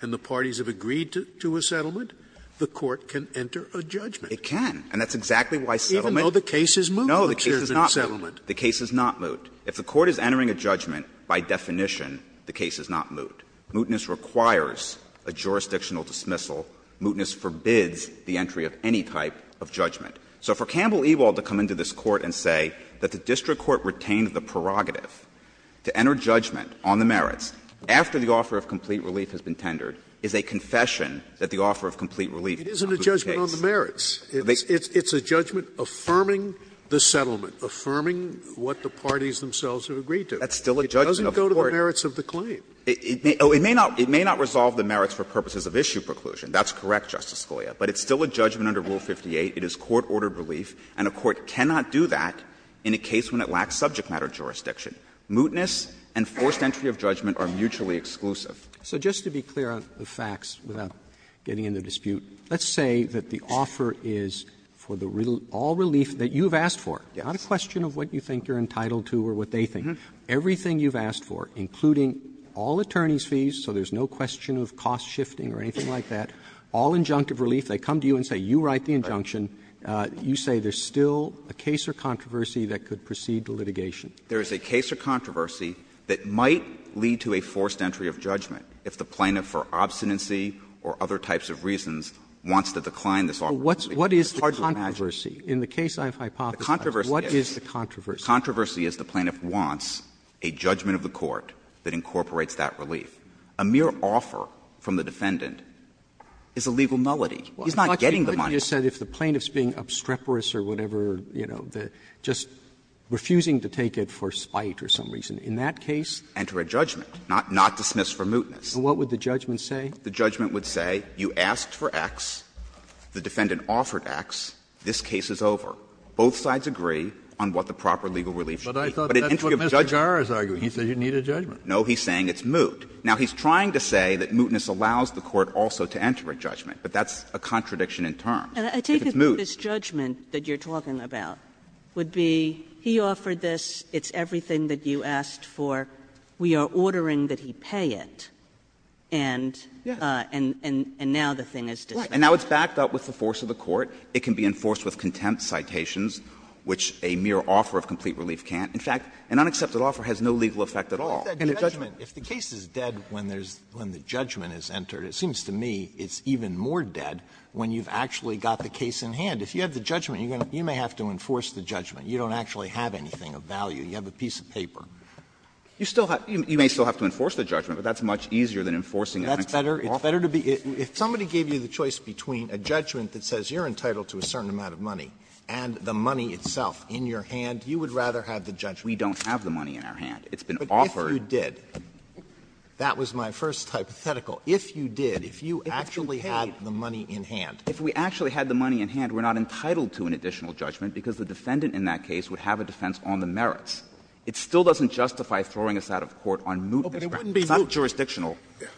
and the parties have agreed to a settlement, the court can enter a judgment. It can. And that's exactly why settlement – Even though the case is moot, which is a settlement. No, the case is not moot. If the court is entering a judgment, by definition, the case is not moot. Mootness requires a jurisdictional dismissal. Mootness forbids the entry of any type of judgment. So for Campbell Ewald to come into this Court and say that the district court retained the prerogative to enter judgment on the merits after the offer of complete relief has been tendered is a confession that the offer of complete relief is not the case. It isn't a judgment on the merits. It's a judgment affirming the settlement, affirming what the parties themselves have agreed to. That's still a judgment. It doesn't go to the merits of the claim. It may not resolve the merits for purposes of issue preclusion. That's correct, Justice Scalia. But it's still a judgment under Rule 58. It is court-ordered relief. And a court cannot do that in a case when it lacks subject matter jurisdiction. Mootness and forced entry of judgment are mutually exclusive. Roberts. Roberts. So just to be clear on the facts without getting into a dispute, let's say that the offer is for the all relief that you've asked for, not a question of what you think you're entitled to or what they think, everything you've asked for, including all attorneys' fees, so there's no question of cost shifting or anything like that, all injunctive relief. If they come to you and say, you write the injunction, you say there's still a case or controversy that could precede the litigation. There is a case or controversy that might lead to a forced entry of judgment if the plaintiff for obstinacy or other types of reasons wants to decline this offer. It's hard to imagine. But what is the controversy? In the case I've hypothesized, what is the controversy? The controversy is the plaintiff wants a judgment of the court that incorporates that relief. A mere offer from the defendant is a legal nullity. He's not getting the money. Roberts If the plaintiff is being obstreperous or whatever, you know, just refusing to take it for spite or some reason, in that case? Enter a judgment, not dismiss for mootness. And what would the judgment say? The judgment would say you asked for X, the defendant offered X, this case is over. Both sides agree on what the proper legal relief should be. But an entry of judgment. But I thought that's what Mr. Gara is arguing. He says you need a judgment. No, he's saying it's moot. Now, he's trying to say that mootness allows the court also to enter a judgment, but that's a contradiction in terms. If it's moot. Kagan And I take it that this judgment that you're talking about would be he offered this, it's everything that you asked for, we are ordering that he pay it, and now the thing is dismissed. Roberts And now it's backed up with the force of the court. It can be enforced with contempt citations, which a mere offer of complete relief can't. In fact, an unaccepted offer has no legal effect at all. And a judgment. If the case is dead when there's, when the judgment is entered, it seems to me it's even more dead when you've actually got the case in hand. If you have the judgment, you may have to enforce the judgment. You don't actually have anything of value. You have a piece of paper. You still have, you may still have to enforce the judgment, but that's much easier than enforcing an unaccepted offer. It's better to be, if somebody gave you the choice between a judgment that says you're entitled to a certain amount of money and the money itself in your hand, you would rather have the judgment. We don't have the money in our hand. It's been offered. Sotomayor, but if you did, that was my first hypothetical, if you did, if you actually had the money in hand. If we actually had the money in hand, we're not entitled to an additional judgment because the defendant in that case would have a defense on the merits. It still doesn't justify throwing us out of court on mootness grounds. It's not jurisdictional.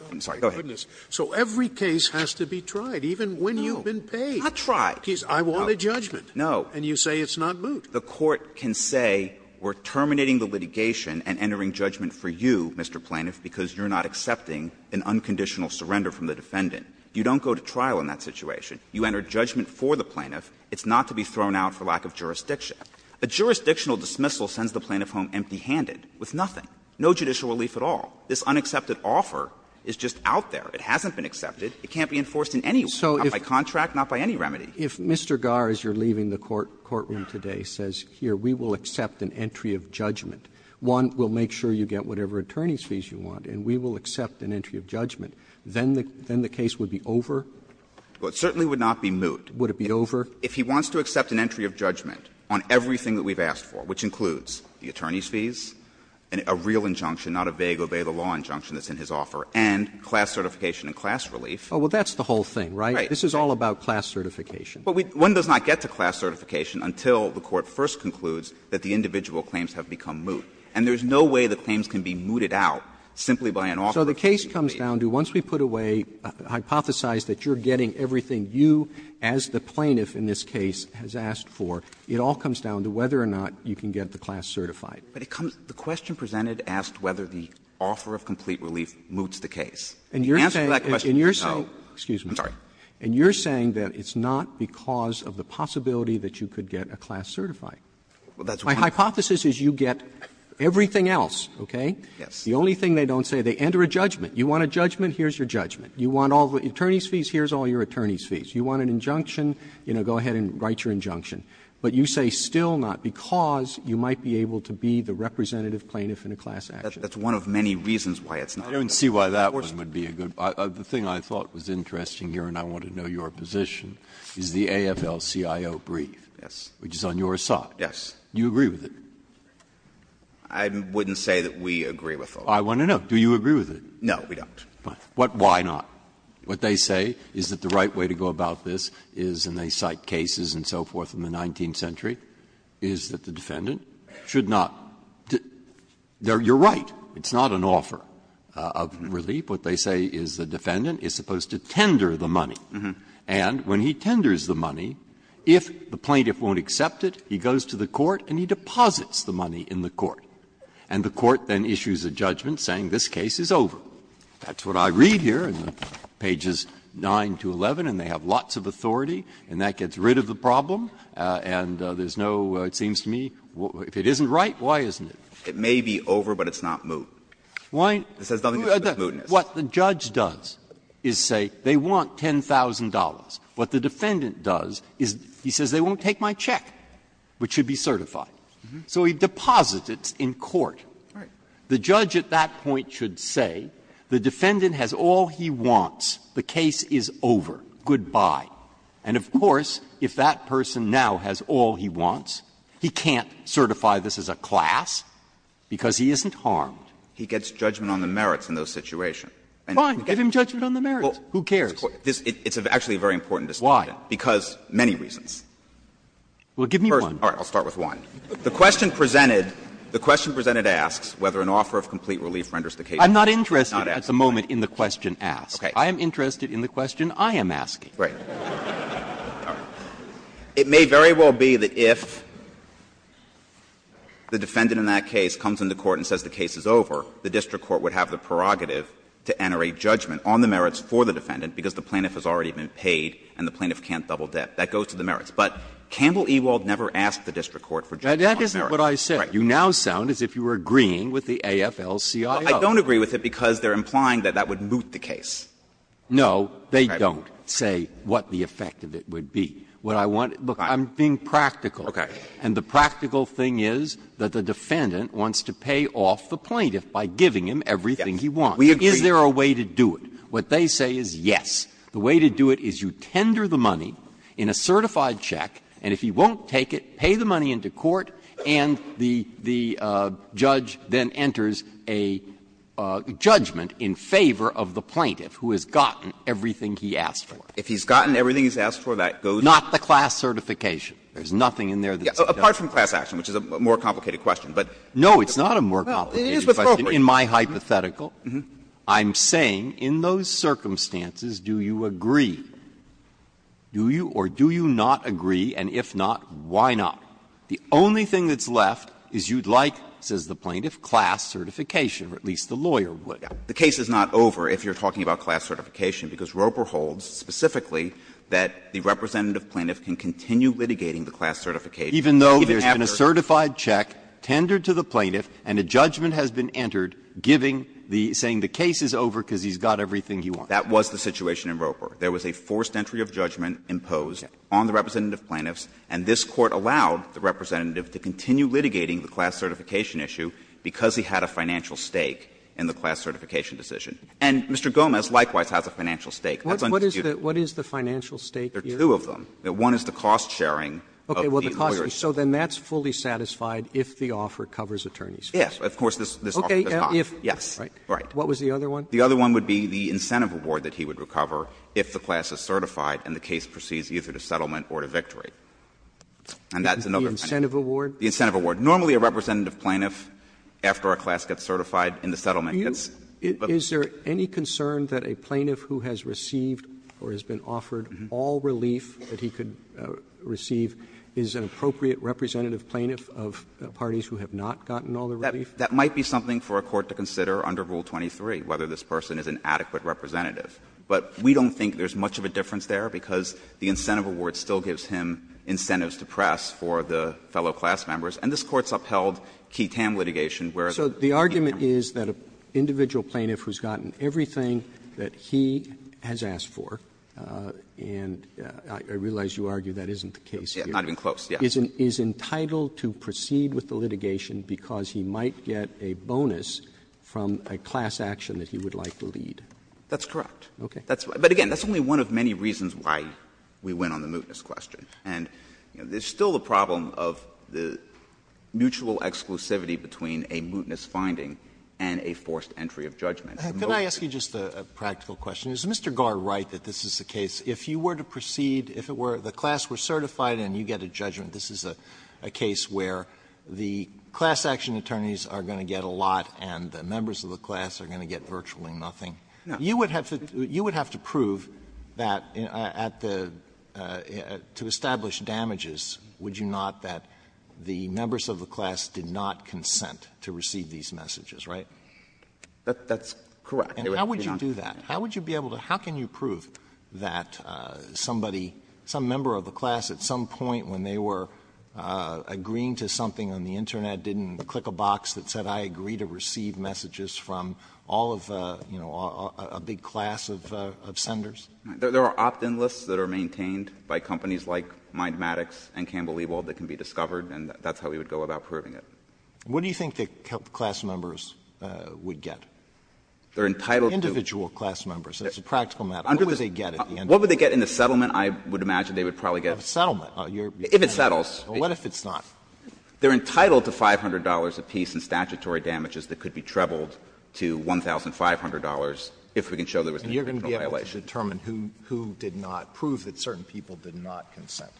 I'm sorry, go ahead. Scalia, so every case has to be tried, even when you've been paid. No, not tried. I want a judgment. No. And you say it's not moot. The Court can say we're terminating the litigation and entering judgment for you, Mr. Plaintiff, because you're not accepting an unconditional surrender from the defendant. You don't go to trial in that situation. You enter judgment for the plaintiff. It's not to be thrown out for lack of jurisdiction. A jurisdictional dismissal sends the plaintiff home empty-handed with nothing, no judicial relief at all. This unaccepted offer is just out there. It hasn't been accepted. It can't be enforced in any way, not by contract, not by any remedy. Roberts If Mr. Garr, as you're leaving the courtroom today, says, here, we will accept an entry of judgment, one, we'll make sure you get whatever attorney's fees you want, and we will accept an entry of judgment, then the case would be over? Well, it certainly would not be moot. Would it be over? If he wants to accept an entry of judgment on everything that we've asked for, which includes the attorney's fees, a real injunction, not a vague obey-the-law injunction that's in his offer, and class certification and class relief. Oh, well, that's the whole thing, right? Right. This is all about class certification. Well, one does not get to class certification until the court first concludes that the individual claims have become moot. And there's no way the claims can be mooted out simply by an offer of complete relief. So the case comes down to, once we put away, hypothesize that you're getting everything you, as the plaintiff in this case, has asked for, it all comes down to whether or not you can get the class certified. But it comes to the question presented asked whether the offer of complete relief moots the case. And the answer to that question is no. Roberts And you're saying that it's not because of the possibility that you could get a class certified. My hypothesis is you get everything else, okay? The only thing they don't say, they enter a judgment. You want a judgment, here's your judgment. You want all the attorney's fees, here's all your attorney's fees. You want an injunction, you know, go ahead and write your injunction. But you say still not because you might be able to be the representative plaintiff in a class action. That's one of many reasons why it's not. Breyer. I don't see why that one would be a good one. The thing I thought was interesting here, and I want to know your position, is the AFL-CIO brief. Yes. Which is on your side. Yes. Do you agree with it? I wouldn't say that we agree with it. I want to know. Do you agree with it? No, we don't. Why not? What they say is that the right way to go about this is, and they cite cases and so forth in the 19th century, is that the defendant should not do you're right, it's not an offer. Of relief, what they say is the defendant is supposed to tender the money. And when he tenders the money, if the plaintiff won't accept it, he goes to the court and he deposits the money in the court, and the court then issues a judgment saying this case is over. That's what I read here in pages 9 to 11, and they have lots of authority, and that gets rid of the problem, and there's no, it seems to me, if it isn't right, why isn't it? It may be over, but it's not moot. It says nothing to do with mootness. Breyer. What the judge does is say they want $10,000. What the defendant does is he says they won't take my check, which should be certified. So he deposits it in court. The judge at that point should say the defendant has all he wants, the case is over, goodbye. And of course, if that person now has all he wants, he can't certify this as a class because he isn't harmed. He gets judgment on the merits in those situations. Fine. Give him judgment on the merits. Who cares? It's actually a very important distinction. Why? Because many reasons. Well, give me one. All right. I'll start with one. The question presented, the question presented asks whether an offer of complete relief renders the case not as a class. I'm not interested at the moment in the question asked. Okay. I am interested in the question I am asking. Right. It may very well be that if the defendant in that case comes into court and says the case is over, the district court would have the prerogative to enter a judgment on the merits for the defendant because the plaintiff has already been paid and the plaintiff can't double debt. That goes to the merits. But Campbell Ewald never asked the district court for judgment on the merits. That isn't what I said. Right. You now sound as if you were agreeing with the AFL-CIO. I don't agree with it because they are implying that that would moot the case. No, they don't say what the effect of it would be. What I want to do to look at, I'm being practical. Okay. And the practical thing is that the defendant wants to pay off the plaintiff by giving him everything he wants. We agree. Is there a way to do it? What they say is yes. The way to do it is you tender the money in a certified check, and if he won't take it, pay the money into court, and the judge then enters a judgment in favor of the plaintiff. And the plaintiff is the plaintiff who has gotten everything he asked for. If he's gotten everything he's asked for, that goes to the court. Not the class certification. There's nothing in there that's not. Apart from class action, which is a more complicated question, but. No, it's not a more complicated question. Well, it is, but it's appropriate. In my hypothetical, I'm saying in those circumstances, do you agree? Do you or do you not agree, and if not, why not? The only thing that's left is you'd like, says the plaintiff, class certification, or at least the lawyer would like. The case is not over if you're talking about class certification, because Roper holds specifically that the representative plaintiff can continue litigating the class certification. Even though there's been a certified check tendered to the plaintiff and a judgment has been entered giving the – saying the case is over because he's got everything he wants. That was the situation in Roper. There was a forced entry of judgment imposed on the representative plaintiffs, and this Court allowed the representative to continue litigating the class certification issue because he had a financial stake in the class certification decision. And Mr. Gomez likewise has a financial stake. That's undisputed. Roberts What is the financial stake here? There are two of them. One is the cost sharing of the lawyers. Okay. Well, the cost sharing. So then that's fully satisfied if the offer covers attorneys. Yes. Of course, this offer does not. Yes. Right. What was the other one? The other one would be the incentive award that he would recover if the class is certified and the case proceeds either to settlement or to victory. And that's another kind of thing. The incentive award? The incentive award. Normally a representative plaintiff, after a class gets certified, in the settlement gets. Roberts Do you – is there any concern that a plaintiff who has received or has been offered all relief that he could receive is an appropriate representative plaintiff of parties who have not gotten all the relief? That might be something for a court to consider under Rule 23, whether this person is an adequate representative. But we don't think there's much of a difference there because the incentive award still gives him incentives to press for the fellow class members. And this Court's upheld Keetam litigation, where the members of Keetam are not. Roberts So the argument is that an individual plaintiff who's gotten everything that he has asked for, and I realize you argue that isn't the case here. Not even close, yes. Is entitled to proceed with the litigation because he might get a bonus from a class action that he would like to lead. That's correct. Okay. But again, that's only one of many reasons why we went on the mootness question. And there's still a problem of the mutual exclusivity between a mootness finding and a forced entry of judgment. Alito Can I ask you just a practical question? Is Mr. Garre right that this is the case? If you were to proceed, if it were the class were certified and you get a judgment, this is a case where the class action attorneys are going to get a lot and the members of the class are going to get virtually nothing. You would have to prove that at the to establish damages, would you not, that the members of the class did not consent to receive these messages, right? That's correct. And how would you do that? How would you be able to how can you prove that somebody, some member of the class at some point when they were agreeing to something on the Internet didn't click a box that said I agree to receive messages from all of a, you know, a big class of senders? There are opt-in lists that are maintained by companies like Mindmatics and Campbell-Ewald that can be discovered, and that's how we would go about proving it. What do you think the class members would get? They're entitled to Individual class members, that's a practical matter. What would they get? What would they get in the settlement? I would imagine they would probably get A settlement. If it settles. What if it's not? They're entitled to $500 apiece in statutory damages that could be trebled to $1,500 if we can show there was an internal violation. And you're going to be able to determine who did not prove that certain people did not consent?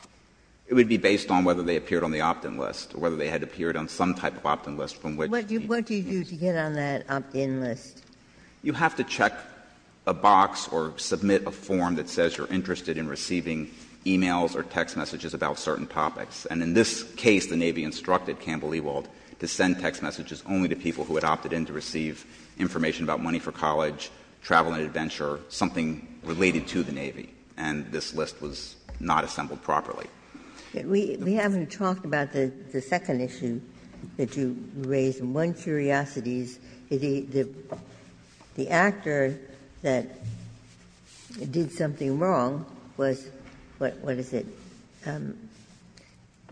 It would be based on whether they appeared on the opt-in list or whether they had appeared on some type of opt-in list from which the What do you do to get on that opt-in list? You have to check a box or submit a form that says you're interested in receiving e-mails or text messages about certain topics. And in this case, the Navy instructed Campbell Ewald to send text messages only to people who had opted in to receive information about money for college, travel and adventure, something related to the Navy. And this list was not assembled properly. We haven't talked about the second issue that you raised. One curiosity is the actor that did something wrong was what? What is it,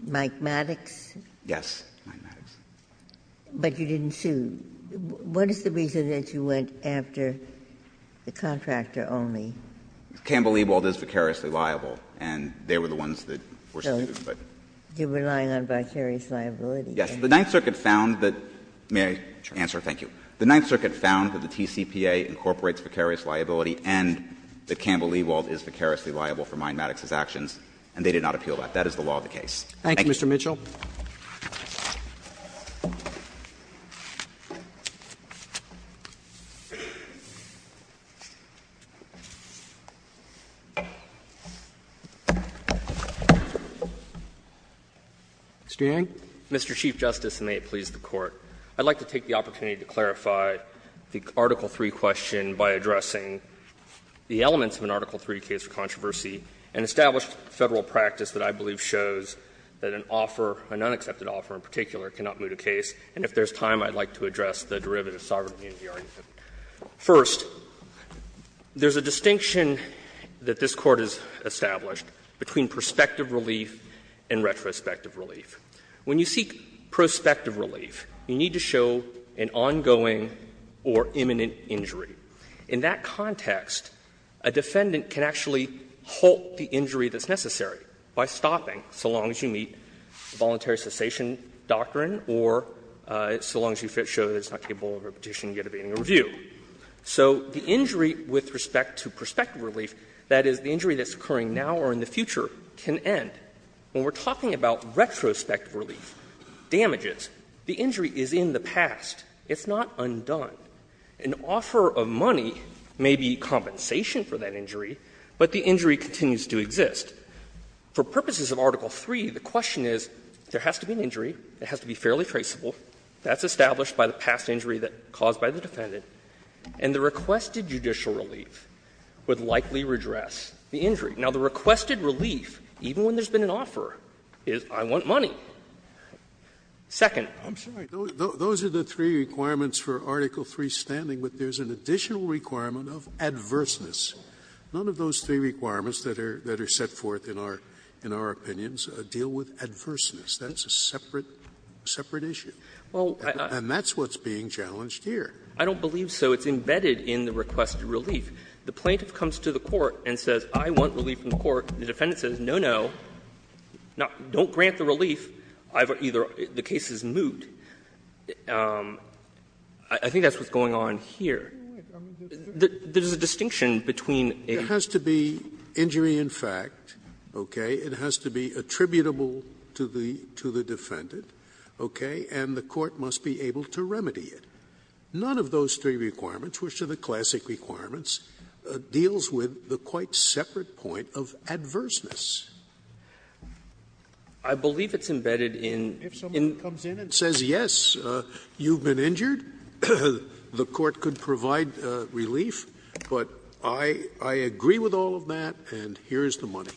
Mike Maddox? Yes, Mike Maddox. But you didn't sue. What is the reason that you went after the contractor only? Campbell Ewald is vicariously liable, and they were the ones that were sued. So you're relying on vicarious liability. Yes. The Ninth Circuit found that the TCPA incorporates vicarious liability and that is the law of the case. Thank you. Thank you, Mr. Mitchell. Mr. Yang. Mr. Chief Justice, and may it please the Court, I'd like to take the opportunity to clarify the Article III question by addressing the elements of an Article III case for controversy and establish Federal practice that I believe shows that an offer, an unaccepted offer in particular, cannot move the case. And if there's time, I'd like to address the derivative sovereignty in the argument. First, there's a distinction that this Court has established between prospective relief and retrospective relief. When you seek prospective relief, you need to show an ongoing or imminent injury. In that context, a defendant can actually halt the injury that's necessary by stopping, so long as you meet the voluntary cessation doctrine or so long as you show that it's not capable of repetition yet of any review. So the injury with respect to prospective relief, that is, the injury that's occurring now or in the future, can end. When we're talking about retrospective relief, damages, the injury is in the past. It's not undone. An offer of money may be compensation for that injury, but the injury continues to exist. For purposes of Article III, the question is, there has to be an injury, it has to be fairly traceable, that's established by the past injury that caused by the defendant, and the requested judicial relief would likely redress the injury. Now, the requested relief, even when there's been an offer, is I want money. Second. Scalia, I'm sorry, those are the three requirements for Article III standing, but there's an additional requirement of adverseness. None of those three requirements that are set forth in our opinions deal with adverseness. That's a separate issue. And that's what's being challenged here. I don't believe so. It's embedded in the requested relief. The plaintiff comes to the court and says, I want relief from the court. The defendant says, no, no, don't grant the relief. I've either or the case is moot. I think that's what's going on here. There's a distinction between a ---- Scalia, it has to be injury in fact, okay? It has to be attributable to the defendant, okay? And the court must be able to remedy it. None of those three requirements, which are the classic requirements, deals with the quite separate point of adverseness. I believe it's embedded in the---- Scalia, if someone comes in and says, yes, you've been injured, the court could provide relief, but I agree with all of that, and here's the money.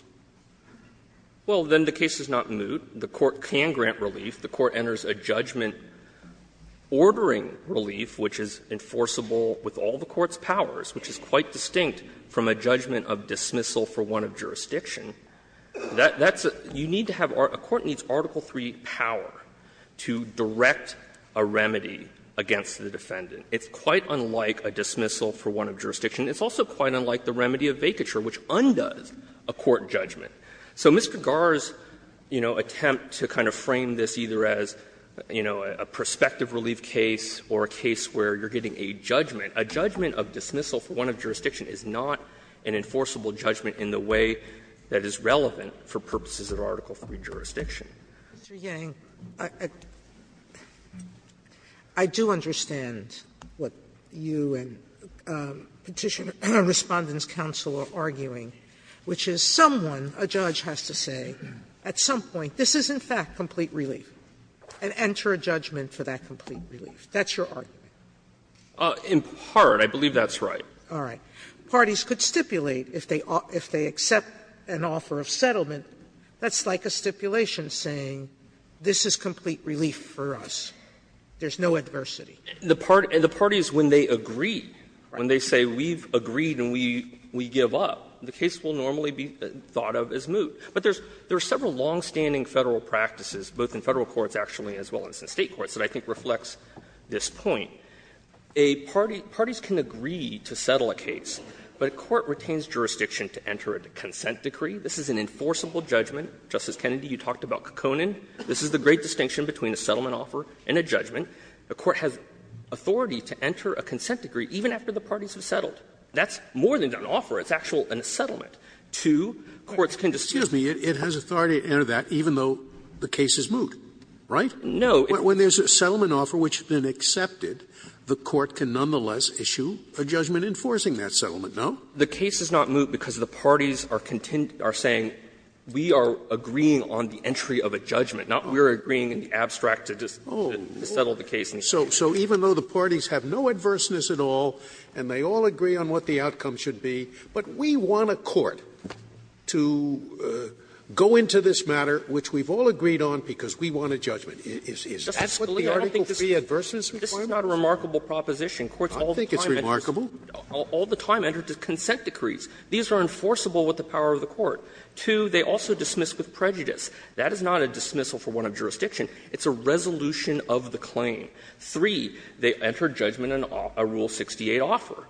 Well, then the case is not moot. The court can grant relief. The court enters a judgment ordering relief, which is enforceable with all the court's powers, which is quite distinct from a judgment of dismissal for one of jurisdiction. That's a ---- you need to have or a court needs Article III power to direct a remedy against the defendant. It's quite unlike a dismissal for one of jurisdiction. It's also quite unlike the remedy of vacature, which undoes a court judgment. So Mr. Garre's, you know, attempt to kind of frame this either as, you know, a prospective relief case or a case where you're getting a judgment, a judgment of dismissal for one of jurisdiction, is not an enforceable judgment in the way that is relevant for purposes of Article III jurisdiction. Sotomayor, I do understand what you and Petitioner and Respondents Counsel are arguing, which is someone, a judge, has to say at some point, this is in fact complete relief, and enter a judgment for that complete relief. That's your argument. In part, I believe that's right. All right. Parties could stipulate, if they accept an offer of settlement, that's like a stipulation saying this is complete relief for us. There's no adversity. And the parties, when they agree, when they say we've agreed and we give up, the case will normally be thought of as moot. But there's several longstanding Federal practices, both in Federal courts, actually, as well as in State courts, that I think reflects this point. Parties can agree to settle a case, but a court retains jurisdiction to enter a consent decree. This is an enforceable judgment. Justice Kennedy, you talked about Kekkonen. This is the great distinction between a settlement offer and a judgment. A court has authority to enter a consent decree even after the parties have settled. That's more than an offer. It's actually a settlement. Two courts can dispute. Scalia, it has authority to enter that even though the case is moot, right? No. When there's a settlement offer which has been accepted, the court can nonetheless issue a judgment enforcing that settlement, no? The case is not moot because the parties are saying we are agreeing on the entry of a judgment, not we are agreeing in the abstract to just settle the case. So even though the parties have no adverseness at all and they all agree on what the outcome should be, but we want a court to go into this matter, which we've all agreed on, the judgment is what the article 3 adverseness requires? This is not a remarkable proposition. I think it's remarkable. All the time it enters consent decrees. These are enforceable with the power of the court. Two, they also dismiss with prejudice. That is not a dismissal for warrant of jurisdiction. It's a resolution of the claim. Three, they enter judgment in a Rule 68 offer.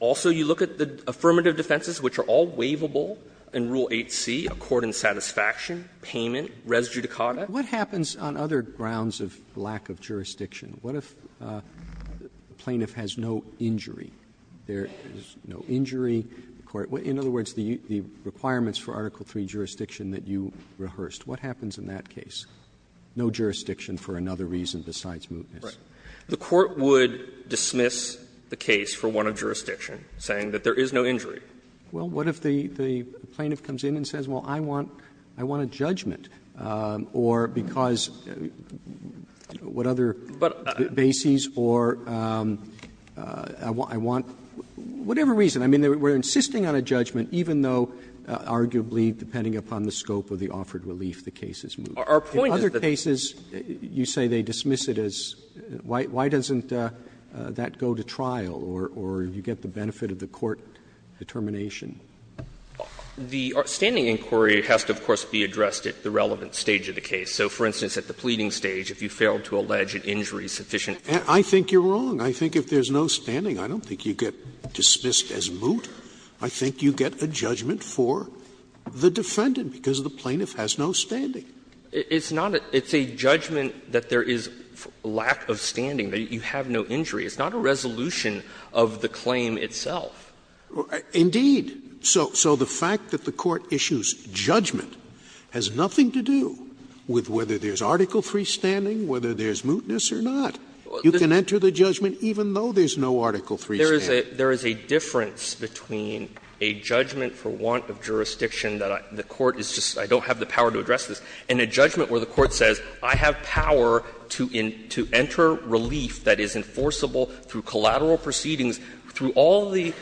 Also, you look at the affirmative defenses, which are all waivable in Rule 8c, a court in satisfaction, payment, res judicata. Roberts What happens on other grounds of lack of jurisdiction? What if the plaintiff has no injury? There is no injury. In other words, the requirements for Article 3 jurisdiction that you rehearsed, what happens in that case? No jurisdiction for another reason besides mootness. The court would dismiss the case for warrant of jurisdiction, saying that there is no injury. Well, what if the plaintiff comes in and says, well, I want a judgment? Or because what other bases or I want whatever reason. I mean, we're insisting on a judgment, even though arguably, depending upon the scope of the offered relief, the case is moot. In other cases, you say they dismiss it as why doesn't that go to trial, or you get the benefit of the court determination? The standing inquiry has to, of course, be addressed at the relevant stage of the case. So, for instance, at the pleading stage, if you fail to allege an injury sufficient I think you're wrong. I think if there's no standing, I don't think you get dismissed as moot. I think you get a judgment for the defendant, because the plaintiff has no standing. It's not a – it's a judgment that there is lack of standing, that you have no injury. It's not a resolution of the claim itself. Indeed. So the fact that the court issues judgment has nothing to do with whether there's Article III standing, whether there's mootness or not. You can enter the judgment even though there's no Article III standing. There is a difference between a judgment for want of jurisdiction that the court is just – I don't have the power to address this, and a judgment where the court says I have power to enter relief that is enforceable through collateral proceedings through all the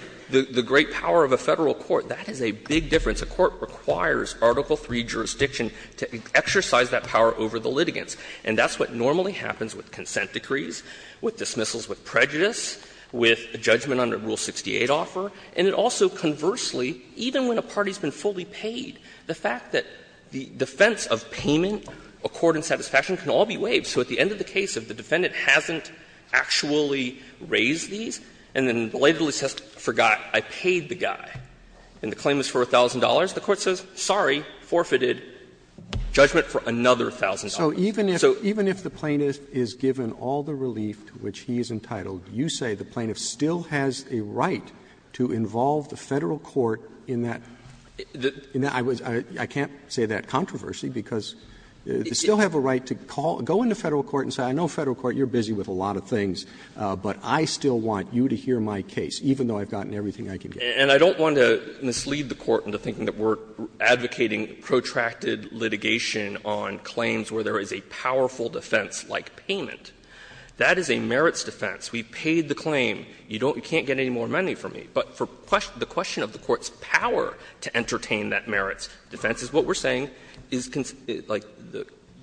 great power of a Federal court, that is a big difference. A court requires Article III jurisdiction to exercise that power over the litigants. And that's what normally happens with consent decrees, with dismissals, with prejudice, with a judgment under Rule 68 offer. And it also, conversely, even when a party has been fully paid, the fact that the defendant hasn't actually raised these, and then belatedly says, I forgot, I paid the guy, and the claim is for $1,000, the court says, sorry, forfeited judgment for another $1,000. So even if the plaintiff is given all the relief to which he is entitled, you say the plaintiff still has a right to involve the Federal court in that – I can't say that controversy, because they still have a right to call – go into Federal court and say, I know Federal court, you're busy with a lot of things, but I still want you to hear my case, even though I've gotten everything I can get. And I don't want to mislead the court into thinking that we're advocating protracted litigation on claims where there is a powerful defense like payment. That is a merits defense. We paid the claim. You don't – you can't get any more money from me. But for the question of the court's power to entertain that merits defense is what we're saying is, like,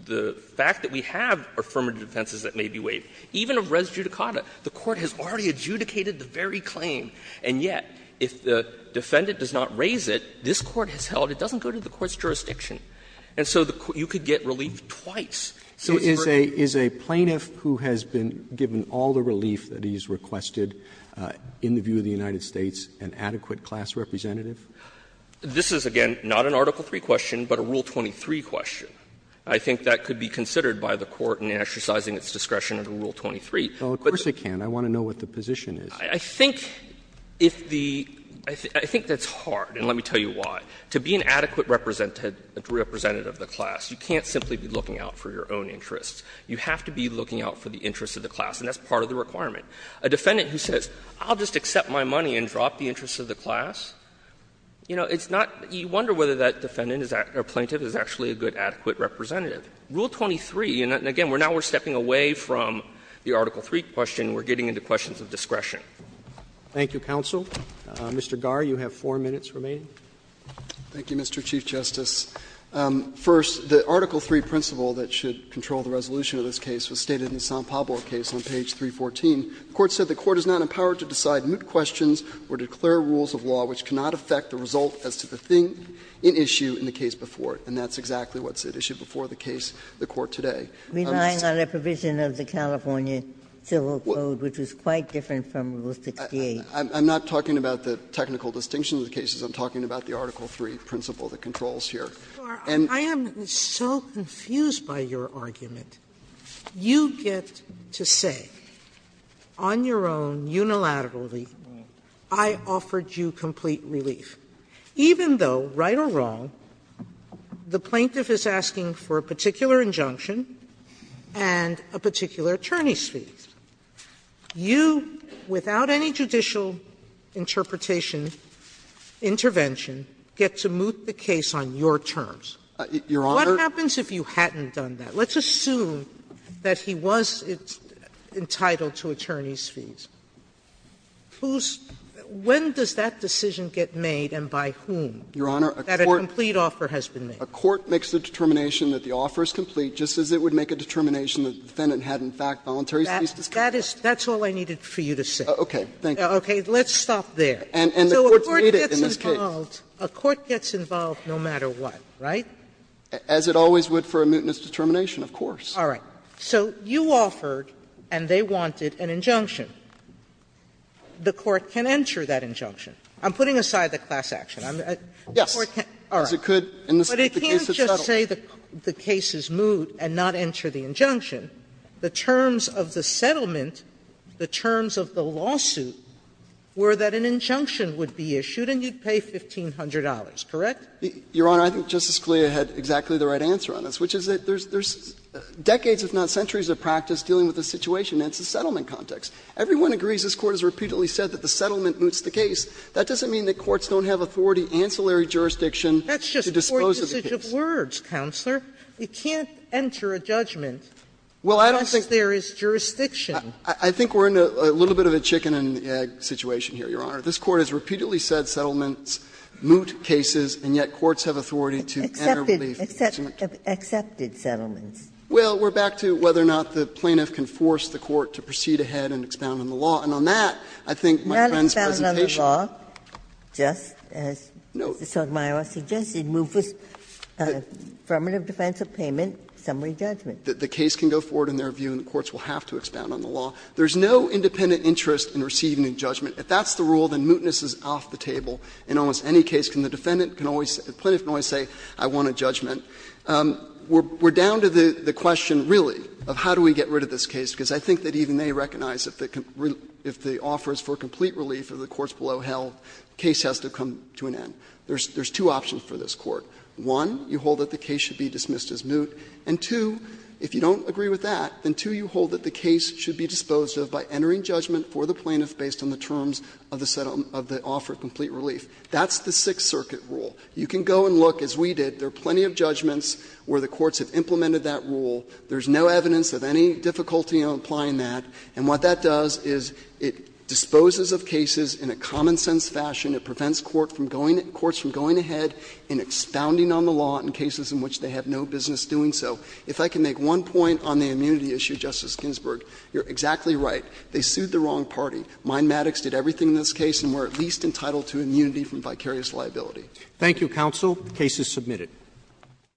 the fact that we have affirmative defenses that may be waived. Even of res judicata, the court has already adjudicated the very claim, and yet if the defendant does not raise it, this court has held it doesn't go to the court's jurisdiction. And so the court – you could get relief twice. So it's for the plaintiff. Roberts, is a plaintiff who has been given all the relief that he's requested in the view of the United States an adequate class representative? This is, again, not an Article III question, but a Rule 23 question. I think that could be considered by the court in exercising its discretion under Rule 23. But the question is the plaintiff's position. I think if the – I think that's hard, and let me tell you why. To be an adequate representative of the class, you can't simply be looking out for your own interests. You have to be looking out for the interests of the class, and that's part of the requirement. A defendant who says, I'll just accept my money and drop the interests of the class, you know, it's not – you wonder whether that defendant or plaintiff is actually a good, adequate representative. Rule 23, and again, now we're stepping away from the Article III question, and we're getting into questions of discretion. Roberts, thank you, counsel. Mr. Garre, you have 4 minutes remaining. Garre, Thank you, Mr. Chief Justice. First, the Article III principle that should control the resolution of this case was stated in the San Pablo case on page 314. The Court said the Court is not empowered to decide moot questions or declare rules of law which cannot affect the result as to the thing in issue in the case before it, and that's exactly what's at issue before the case, the Court today. Ginsburg Relying on a provision of the California Civil Code, which is quite different from Rule 68. Garre, I'm not talking about the technical distinction of the cases. I'm talking about the Article III principle that controls here. And I am so confused by your argument. You get to say, on your own, unilaterally, I offered you complete relief, even though, right or wrong, the plaintiff is asking for a particular injunction and a particular attorney's fees. You, without any judicial interpretation, intervention, get to moot the case on your terms. What happens if you hadn't done that? Let's assume that he was entitled to attorney's fees. Whose – when does that decision get made and by whom? Garre, that a complete offer has been made? Garre, a court makes the determination that the offer is complete just as it would make a determination that the defendant had, in fact, voluntary fees to pay. That is – that's all I needed for you to say. Okay. Thank you. Okay. Let's stop there. And the Court's made it in this case. So a court gets involved no matter what, right? As it always would for a mootness determination, of course. All right. So you offered and they wanted an injunction. The Court can enter that injunction. I'm putting aside the class action. Yes. All right. But it can't just say the case is moot and not enter the injunction. The terms of the settlement, the terms of the lawsuit, were that an injunction would be issued and you'd pay $1,500, correct? Your Honor, I think Justice Scalia had exactly the right answer on this, which is that there's decades, if not centuries, of practice dealing with this situation, and it's a settlement context. Everyone agrees this Court has repeatedly said that the settlement moots the case. That doesn't mean that courts don't have authority, ancillary jurisdiction to dispose of the case. That's just court usage of words, Counselor. You can't enter a judgment unless there is jurisdiction. I think we're in a little bit of a chicken and egg situation here, Your Honor. This Court has repeatedly said settlements moot cases, and yet courts have authority to enter relief. Accepted settlements. Well, we're back to whether or not the plaintiff can force the court to proceed ahead and expound on the law. And on that, I think my friend's presentation. Not expound on the law, just as Mr. Sotomayor suggested, move this affirmative defense of payment, summary judgment. The case can go forward in their view and the courts will have to expound on the law. There is no independent interest in receiving a judgment. If that's the rule, then mootness is off the table in almost any case. Can the defendant can always say, the plaintiff can always say, I want a judgment. We're down to the question, really, of how do we get rid of this case, because I think that even they recognize that if the offer is for complete relief or the court's below hell, the case has to come to an end. There's two options for this Court. One, you hold that the case should be dismissed as moot, and two, if you don't agree with that, then two, you hold that the case should be disposed of by entering a judgment for the plaintiff based on the terms of the offer of complete relief. That's the Sixth Circuit rule. You can go and look, as we did, there are plenty of judgments where the courts have implemented that rule. There's no evidence of any difficulty in applying that. And what that does is it disposes of cases in a common-sense fashion. It prevents courts from going ahead and expounding on the law in cases in which they have no business doing so. If I can make one point on the immunity issue, Justice Ginsburg, you're exactly right. They sued the wrong party. Mindematics did everything in this case and were at least entitled to immunity from vicarious liability. Roberts. Thank you, counsel. The case is submitted.